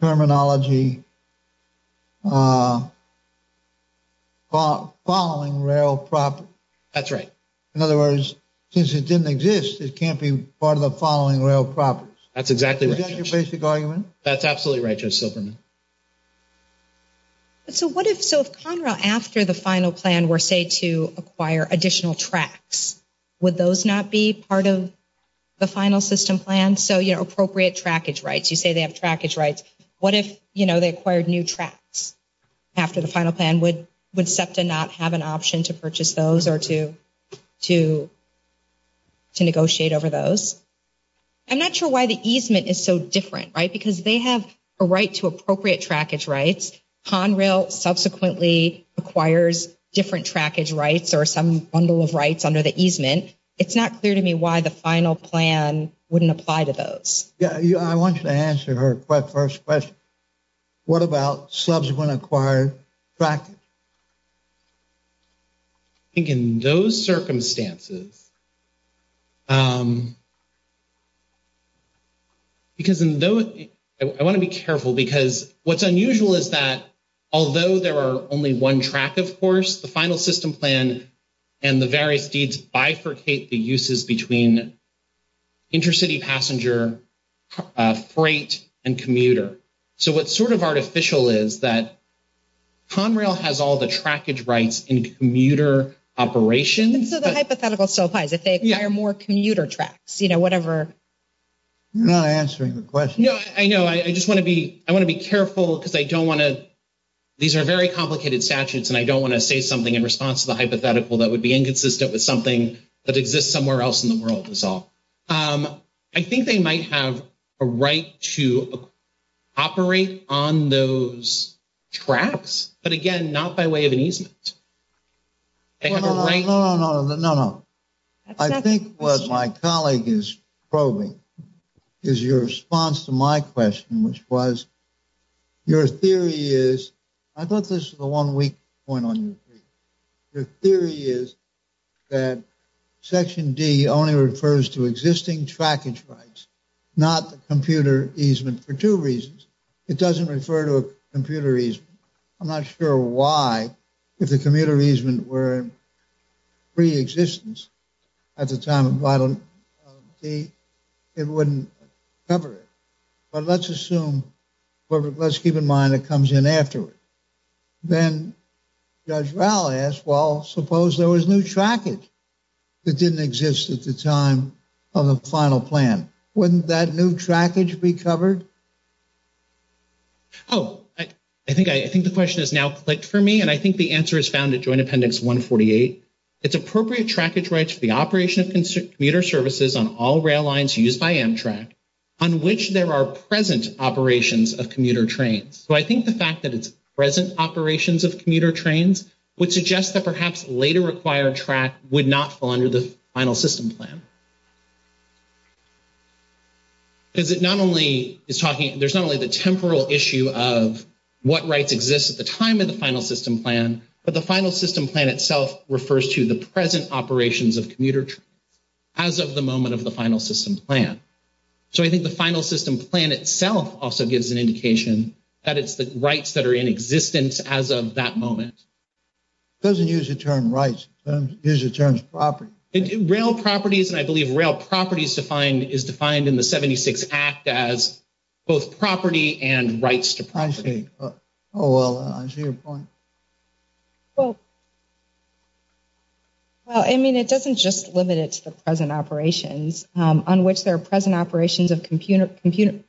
terminology following rail property. That's right. In other words, since it didn't exist, it can't be part of the following rail property. That's exactly right. Is that your basic argument? That's absolutely right, Joseph. So what if Conrail, after the final plan, were, say, to acquire additional tracks? Would those not be part of the final system plan? So, you know, appropriate trackage rights. You say they have trackage rights. What if, you know, they acquired new tracks after the final plan? Would SEPTA not have an option to purchase those or to negotiate over those? I'm not sure why the easement is so different, right? Because they have a right to appropriate trackage rights. Conrail subsequently acquires different trackage rights or some bundle of rights under the easement. It's not clear to me why the final plan wouldn't apply to those. Yeah. I want you to answer her first question. What about subsequently acquired trackage? I think in those circumstances, because in those I want to be careful because what's unusual is that although there are only one track, of course, the final system plan and the various deeds bifurcate the uses between intercity passenger, freight, and commuter. What's sort of artificial is that Conrail has all the trackage rights in commuter operations. So the hypothetical still applies if they acquire more commuter tracks, you know, whatever. You're not answering the question. I know. I just want to be careful because I don't want to, these are very complicated statutes and I don't want to say something in response to the hypothetical that would be inconsistent with something that exists somewhere else in the world. I think they might have a right to operate on those tracks, but again, not by way of an easement. No, no, no. I think what my colleague is probing is your response to my question, which was, your theory is, I thought this was a one-week point on your paper. Your theory is that Section D only refers to existing trackage rights, not the computer easement for two reasons. It doesn't refer to a computer easement. I'm not sure why if the commuter easement were in pre-existence at the time of Title III, it wouldn't cover it. But let's assume, let's keep in mind it comes in afterwards. Then Judge Val asked, well, suppose there was new trackage that didn't exist at the time of the final plan. Wouldn't that new trackage be covered? Oh, I think the question has now clicked for me, and I think the answer is found at Joint Appendix 148. It's appropriate trackage rights for the operation of commuter services on all rail lines used by Amtrak, on which there are present operations of commuter trains. So I think the fact that it's present operations of commuter trains would suggest that perhaps later required track would not fall under the final system plan. Because it not only is talking, there's not only the temporal issue of what rights exist at the time of the final system plan, but the final system plan itself refers to the present operations of commuter trains as of the moment of the final system plan. So I think the final system plan itself also gives an indication that it's the rights that are in existence as of that moment. It doesn't use the term rights. It uses the term properties. Rail properties, and I believe rail properties is defined in the 76 Act as both property and rights to property. I see. Oh, well, I see your point. Well, I mean, it doesn't just limit it to the present operations on which there are present operations of commuter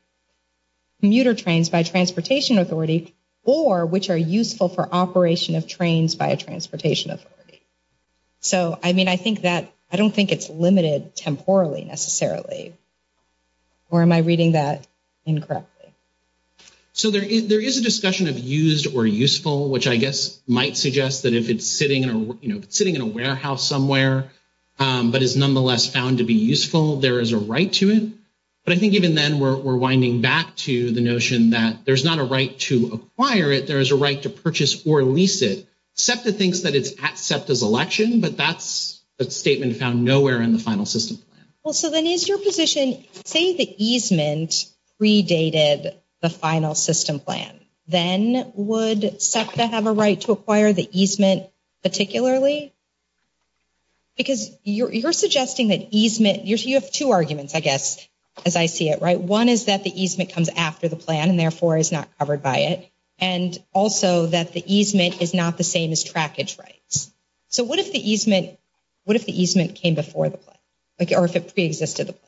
trains by transportation authority or which are useful for operation of trains by transportation authority. So, I mean, I think that, I don't think it's limited temporally necessarily. Or am I reading that incorrectly? So there is a discussion of used or useful, which I guess might suggest that if it's sitting in a warehouse somewhere but is nonetheless found to be I think even then we're winding back to the notion that there's not a right to acquire it, there's a right to purchase or lease it. SEPTA thinks that it's at SEPTA's election, but that's a statement found nowhere in the final system plan. Well, so then is your position saying the easement predated the final system plan? Then would SEPTA have a right to acquire the easement particularly? Because you're suggesting that easement, you have two arguments I guess as I see it, right? One is that the easement comes after the plan and therefore is not covered by it. And also that the easement is not the same as trackage rights. So what if the easement came before the plan? Or if it pre-existed the plan?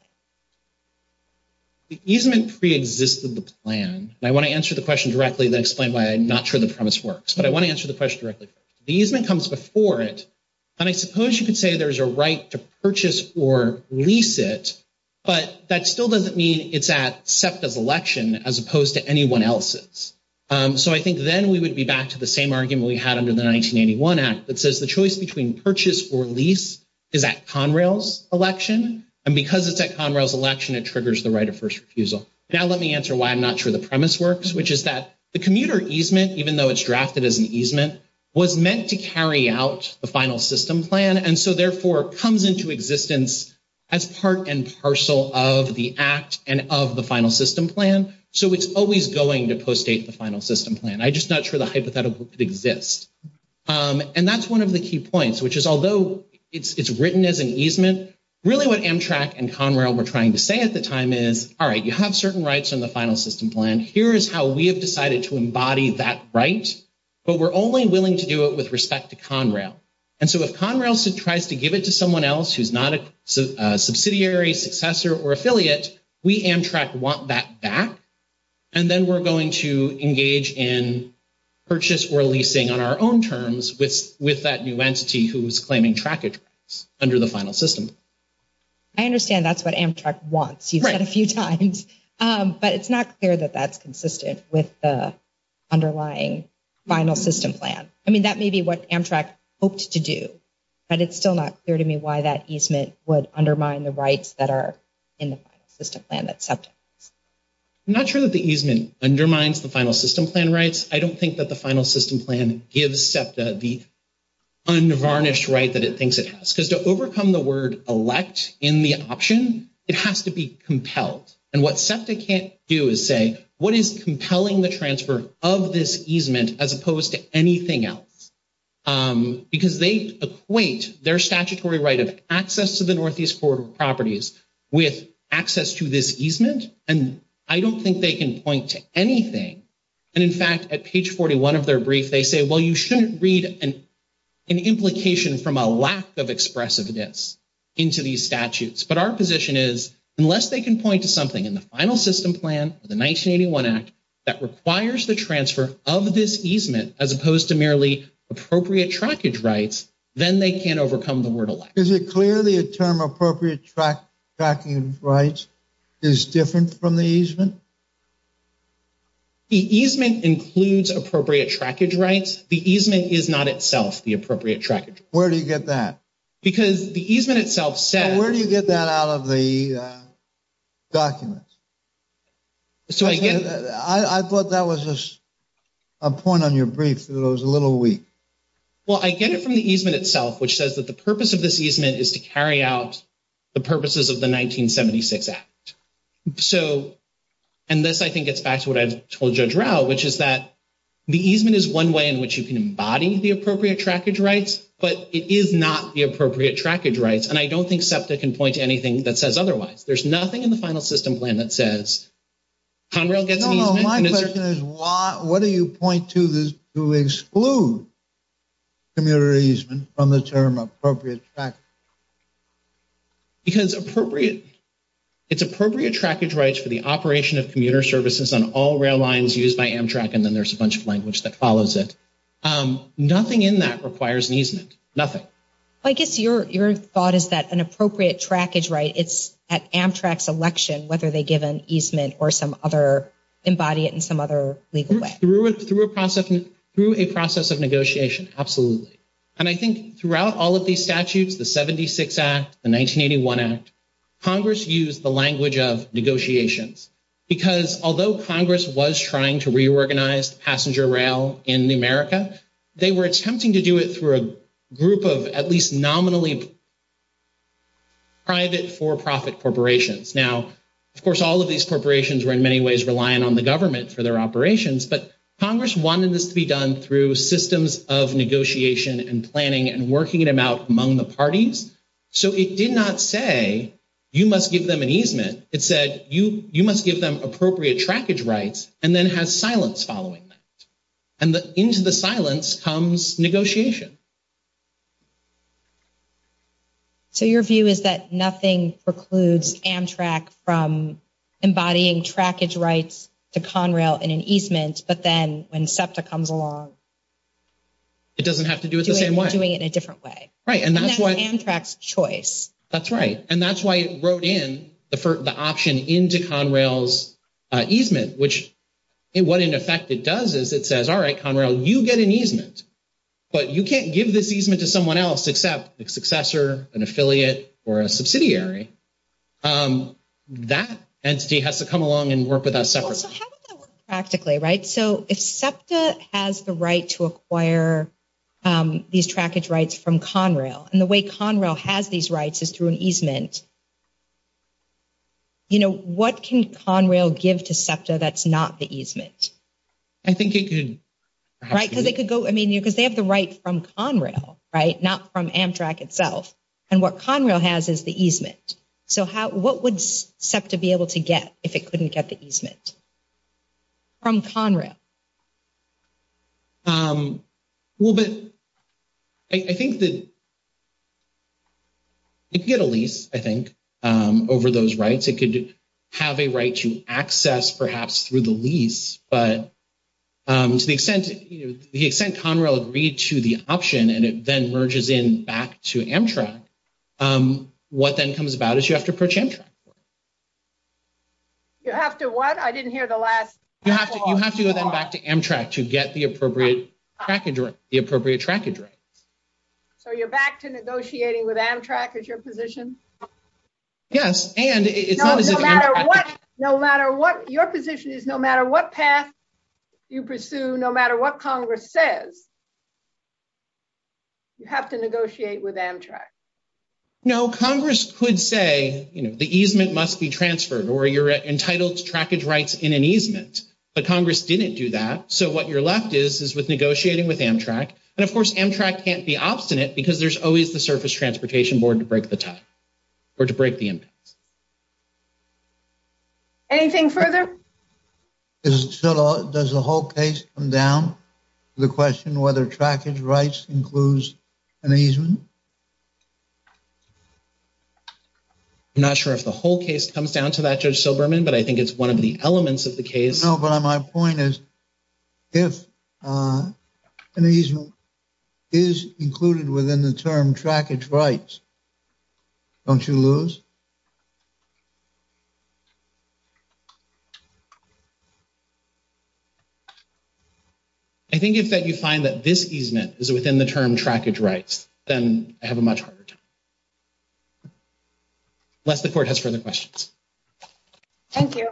The easement pre-existed the plan and I want to answer the question directly and then explain why I'm not sure the premise works. But I want to answer the question directly. The easement comes before it and I suppose you could say there's a right to purchase or lease it, but that still doesn't mean it's at SEPTA's election as opposed to anyone else's. So I think then we would be back to the same argument we had under the 1981 Act that says the choice between purchase or lease is at Conrail's election. And because it's at Conrail's election, it triggers the right of first refusal. Now let me answer why I'm not sure the premise works, which is that the commuter easement, even though it's drafted as an easement, was meant to carry out the final system plan and so therefore comes into existence as part and parcel of the Act and of the final system plan. So it's always going to postdate the final system plan. I'm just not sure the hypothetical exists. And that's one of the key points, which is although it's written as an easement, really what Amtrak and Conrail were trying to say at the time is, all right, you have certain rights in the final system plan. Here is how we have decided to embody that right, but we're only willing to do it with respect to Conrail. And so if Conrail tries to give it to someone else who's not a subsidiary, successor, or affiliate, we, Amtrak, want that back and then we're going to engage in purchase or leasing on our own terms with that new entity who's claiming traffic rights under the final system. I understand that's what Amtrak wants. You've said a few times. But it's not clear that that's consistent with the underlying final system plan. I mean, that may be what Amtrak hoped to do. But it's still not clear to me why that easement would undermine the rights that are in the final system plan that SEPTA. I'm not sure that the easement undermines the final system plan rights. I don't think that the final system plan gives SEPTA the unvarnished right that it thinks it has. Because to overcome the word elect in the option, it has to be compelled. And what SEPTA can't do is say, what is this easement as opposed to anything else? Because they equate their statutory right of access to the Northeast Corridor properties with access to this easement. And I don't think they can point to anything. And in fact, at page 41 of their brief, they say, well, you shouldn't read an implication from a lack of expressiveness into these statutes. But our position is unless they can point to something in the final system plan, the 1981 Act, that requires the transfer of this easement as opposed to merely appropriate trackage rights, then they can't overcome the word elect. Is it clear the term appropriate trackage rights is different from the easement? The easement includes appropriate trackage rights. The easement is not itself the appropriate trackage rights. Where do you get that? Because the easement itself says... And where do you get that out of the documents? I thought that was a point on your brief. It was a little weak. Well, I get it from the easement itself, which says that the purpose of this easement is to carry out the purposes of the 1976 Act. So, and this, I think, gets back to what I told Judge Rao, which is that the easement is one way in which you can embody the appropriate trackage rights, but it is not the appropriate trackage rights. And I don't think SEPTA can point to anything that says otherwise. There's nothing in the final system plan that says... No, no. My question is, what do you point to to exclude commuter easement from the term appropriate trackage? Because appropriate... It's appropriate trackage rights for the operation of commuter services on all rail lines used by Amtrak, and then there's a bunch of language that follows it. Nothing in that requires easement. Nothing. I guess your thought is that an Amtrak selection, whether they give an easement or some other... embody it in some other legal way. Through a process of negotiation, absolutely. And I think throughout all of these statutes, the 76 Act, the 1981 Act, Congress used the language of negotiations. Because although Congress was trying to reorganize passenger rail in America, they were attempting to do it through a group of at least nominally private for-profit corporations. Now, of course, all of these corporations were in many ways relying on the government for their operations, but Congress wanted this to be done through systems of negotiation and planning and working it out among the parties. So it did not say, you must give them an easement. It said, you must give them appropriate trackage rights and then have silence following. And into the silence comes negotiation. So your view is that nothing precludes Amtrak from embodying trackage rights to Conrail in an easement, but then when SEPTA comes along... It doesn't have to do it the same way. Doing it a different way. Right. And that's Amtrak's choice. That's right. And that's why it wrote in the option into Conrail's easement, which what in effect it does is it says, all right, Conrail, you get an easement, but you can't give this easement to someone else except a successor, an affiliate, or a subsidiary. That entity has to come along and work with us separately. How would that work practically, right? So if SEPTA has the right to acquire these trackage rights from Conrail and the way Conrail has these rights is through an easement, you know, what can Conrail give to SEPTA that's not the easement? I think it could... Right, because they have the right from Conrail, right, not from Amtrak itself. And what Conrail has is the easement. So what would SEPTA be able to get if it couldn't get the easement from Conrail? Well, but I think that if you get a lease, I think, over those rights, it could have a right to access perhaps through the easement. To the extent Conrail agreed to the option and it then merges in back to Amtrak, what then comes about is you have to purchase Amtrak. You have to what? I didn't hear the last part. You have to go back to Amtrak to get the appropriate trackage rights. So you're back to negotiating with Amtrak as your position? Yes. No matter what your position is, no matter what path you pursue, no matter what Congress says, you have to negotiate with Amtrak. No, Congress could say the easement must be transferred or you're entitled to trackage rights in an easement. But Congress didn't do that. So what you're left is with negotiating with Amtrak. And of course Amtrak can't be obstinate because there's always the Surface Transportation Board to break the agreement. Anything further? Does the whole case come down to the question whether trackage rights includes an easement? I'm not sure if the whole case comes down to that, Judge Silberman, but I think it's one of the elements of the case. No, but my point is if an easement is included within the term trackage rights, don't you lose? I think if you find that this easement is within the term trackage rights, then I have a much harder time. Unless the Court has further questions. Thank you.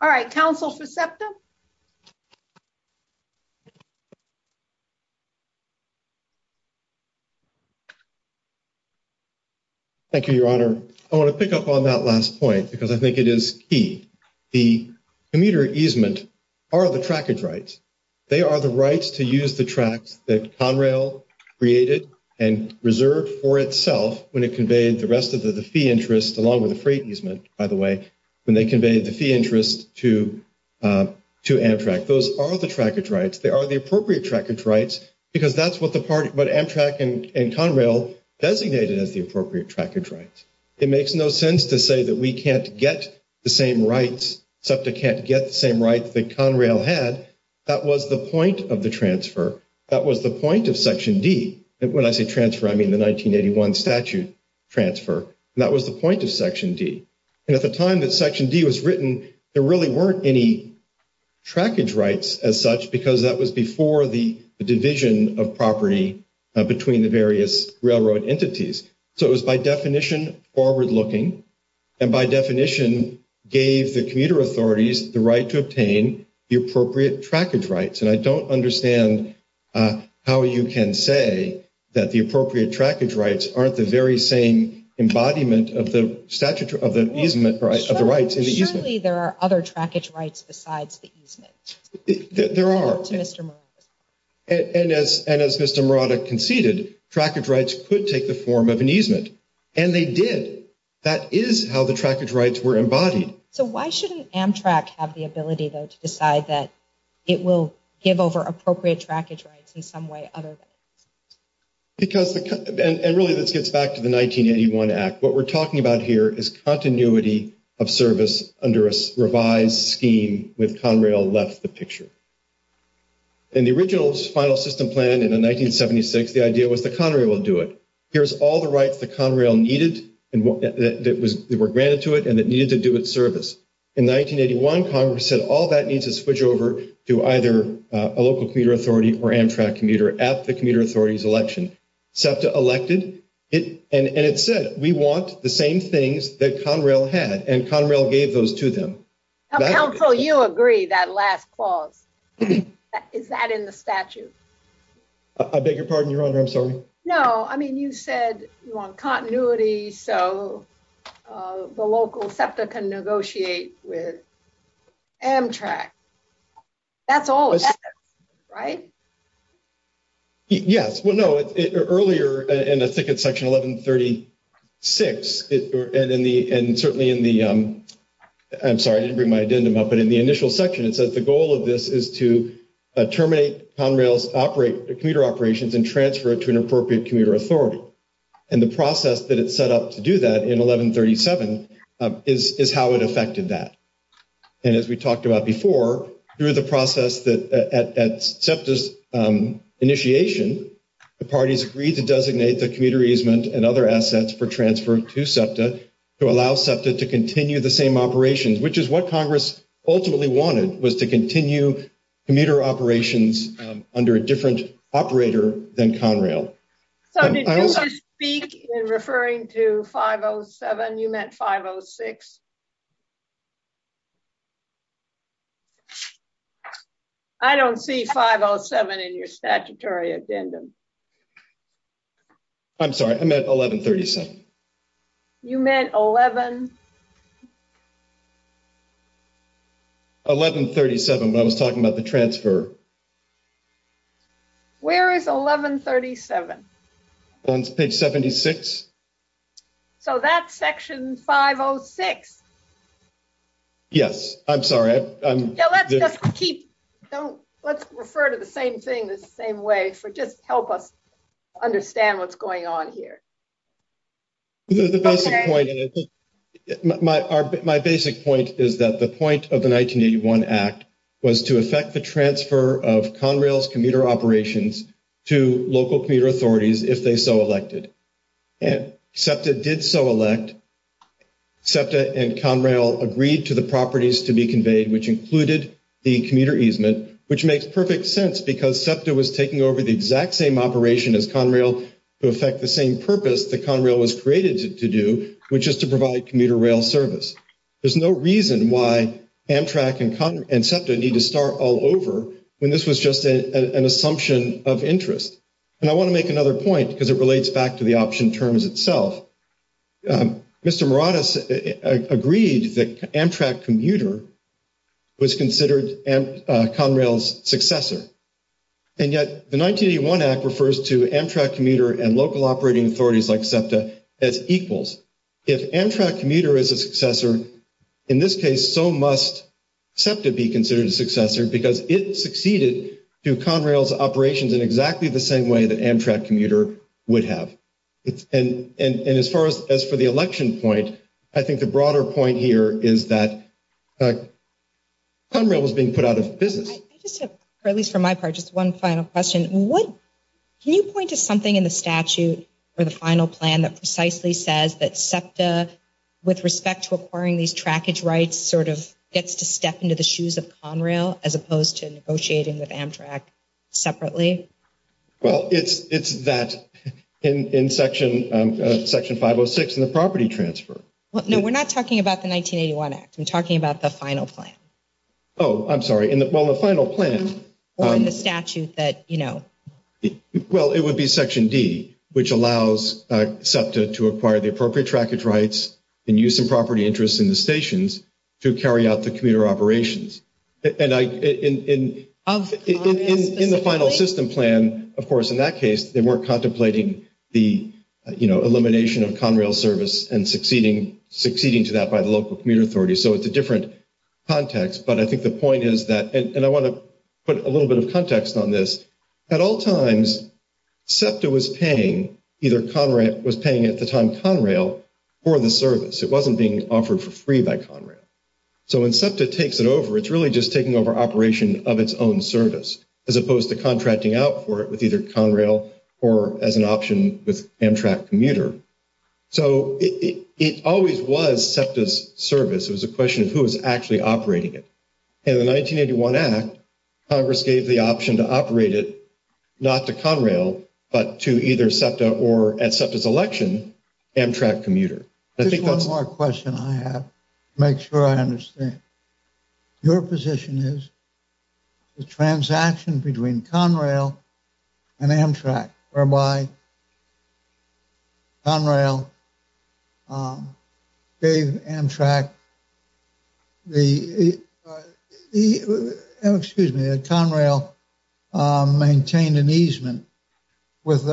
All right. Counsel Perceptive? Thank you, Your Honor. I want to pick up on that last point because I think it is key. The commuter easement are the trackage rights. They are the rights to use the track that Conrail created and reserved for itself when it conveyed the rest of the fee interest along with the freight easement, by the way, when they conveyed the fee interest to Amtrak. Those are the trackage rights. They are the appropriate trackage rights because that's what Amtrak and Conrail designated as the appropriate trackage rights. It makes no sense to say that we can't get the same rights that Conrail had. That was the point of the transfer. That was the point of Section D. When I say transfer, I mean the 1981 statute transfer. That was the point of Section D. At the time that Section D was written, there really weren't any trackage rights as such because that was before the division of property between the various railroad entities. It was by definition forward-looking and by definition gave the commuter authorities the right to obtain the appropriate trackage rights. I don't understand how you can say that the appropriate trackage rights aren't the very same embodiment of the easement rights. Surely there are other trackage rights besides the easement. There are. As Mr. Morata conceded, trackage rights could take the form of an easement, and they did. That is how the trackage rights were embodied. Why shouldn't Amtrak have the ability to decide that it will give over appropriate trackage rights in some way other than easement? This gets back to the 1981 Act. What we're talking about here is continuity of service under a revised scheme when Conrail left the picture. In the original final system plan in 1976, the idea was that Conrail will do it. There's all the rights that Conrail needed that were granted to it and that needed to do with service. In 1981, Congress said all that needs to switch over to either a local commuter authority or Amtrak commuter at the commuter authority's election. SEPTA elected, and it said, we want the same things that Conrail had, and Conrail gave those to them. Council, you agree, that last clause. Is that in the statute? I beg your pardon, Your Honor. I'm sorry. You said you want continuity so the local SEPTA can negotiate with Amtrak. That's all SEPTA, right? Yes. Well, no. Earlier in Section 1136, and certainly in the initial section, it says the goal of this is to terminate Conrail's commuter operations and transfer it to an appropriate commuter authority. The process that it set up to do that in 1137 is how it affected that. As we talked about before, through the process at SEPTA's initiation, the parties agreed to designate the commuter easement and other assets for transfer to SEPTA to allow SEPTA to continue the same operations, which is what Congress ultimately wanted, was to continue commuter operations under a different operator than Conrail. Did you speak in referring to 507? You meant 506? I don't see 507 in your statutory agenda. I'm sorry. I meant 1137. You meant 11... 1137 when I was talking about the transfer. Where is 1137? On page 76. So that's Section 506. Yes. I'm sorry. Let's refer to the same thing the same way for just help us understand what's going on here. My basic point is that the point of the 1981 Act was to affect the transfer of Conrail's commuter operations to local commuter authorities if they so elected. SEPTA did so elect. SEPTA and Conrail agreed to the properties to be conveyed, which included the commuter easement, which makes perfect sense because SEPTA was taking over the exact same operation as Conrail to affect the same purpose that Conrail was created to do, which is to provide commuter rail service. There's no reason why Amtrak and SEPTA need to start all over when this was just an assumption of interest. And I want to make another point because it relates back to the option terms itself. Mr. Maradas agreed that Amtrak commuter was considered Conrail's successor. And yet, the 1981 Act refers to Amtrak commuter and local operating authorities like SEPTA as equals. If Amtrak commuter is a successor, in this case, so must SEPTA be considered a successor because it succeeded to Conrail's operations in exactly the same way that Amtrak commuter would have. And as far as for the election point, I think the broader point here is that Conrail was being put out of business. Just one final question. Can you point to something in the statute or the final plan that precisely says that SEPTA with respect to acquiring these trackage rights sort of gets to step into the shoes of Conrail as opposed to negotiating with Amtrak separately? Well, it's that in section 506 in the property transfer. No, we're not talking about the 1981 Act. We're talking about the final plan. Oh, I'm sorry. Well, the final plan... Or in the statute that, you know... Well, it would be section D, which allows SEPTA to acquire the appropriate trackage rights and use the property interest in the stations to carry out the commuter operations. And I... In the final system plan, of course, in that case, we're contemplating the elimination of Conrail service and succeeding to that by the local commuter authority. So it's a different context, but I think the point is that... And I want to put a little bit of context on this. At all times, SEPTA was paying either Conrail... was paying at the time Conrail for the service. It wasn't being offered for free by Conrail. So when SEPTA takes it over, it's really just taking over operation of its own service as opposed to contracting out for it with either Conrail or as an option with Amtrak commuter. So it always was SEPTA's service. It was a question of who was actually operating it. In the 1981 Act, Congress gave the option to operate it not to Conrail, but to either SEPTA or, at SEPTA's election, Amtrak commuter. I think that's... Here's one more question I have to make sure I understand. Your position is the transaction between Conrail and Amtrak whereby Conrail gave Amtrak the... Excuse me. Conrail maintained an easement with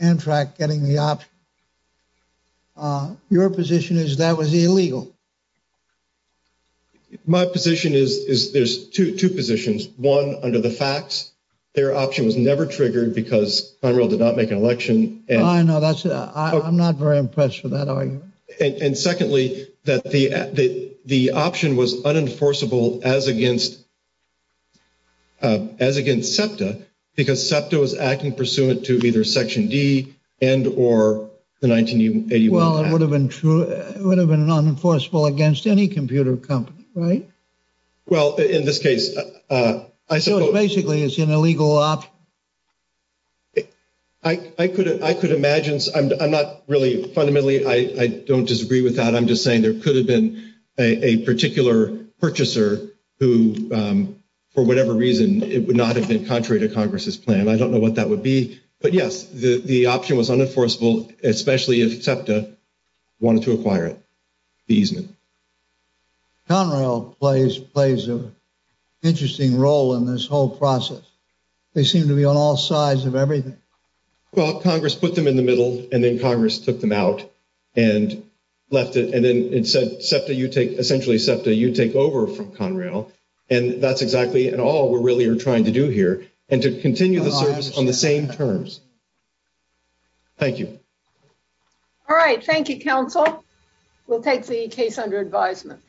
Amtrak getting the option. Your position is that was illegal. My position is there's two positions. One, under the facts, their option was never triggered because Conrail did not make an election. I know. I'm not very impressed with that argument. And secondly, that the option was unenforceable as against SEPTA because SEPTA was acting pursuant to either Section D and or the 1981 Act. Well, it would have been unenforceable against any computer company, right? Well, in this case... So basically, it's an illegal opt... I could imagine... I'm not really... Fundamentally, I don't disagree with that. I'm just saying there could have been a particular purchaser who, for whatever reason, it would not have been contrary to Congress' plan. I don't know what that would be. But yes, the option was unenforceable especially if SEPTA wanted to acquire it, the easement. Conrail plays an interesting role in this whole process. They seem to be on all sides of everything. Well, Congress put them in the middle, and then Congress took them out and left it. And then it said, SEPTA, you take... Essentially, SEPTA, you take over from Conrail. And that's exactly at all we're really trying to do here, and to continue the service on the same terms. Thank you. All right. Thank you, counsel. We'll take the case under advisement.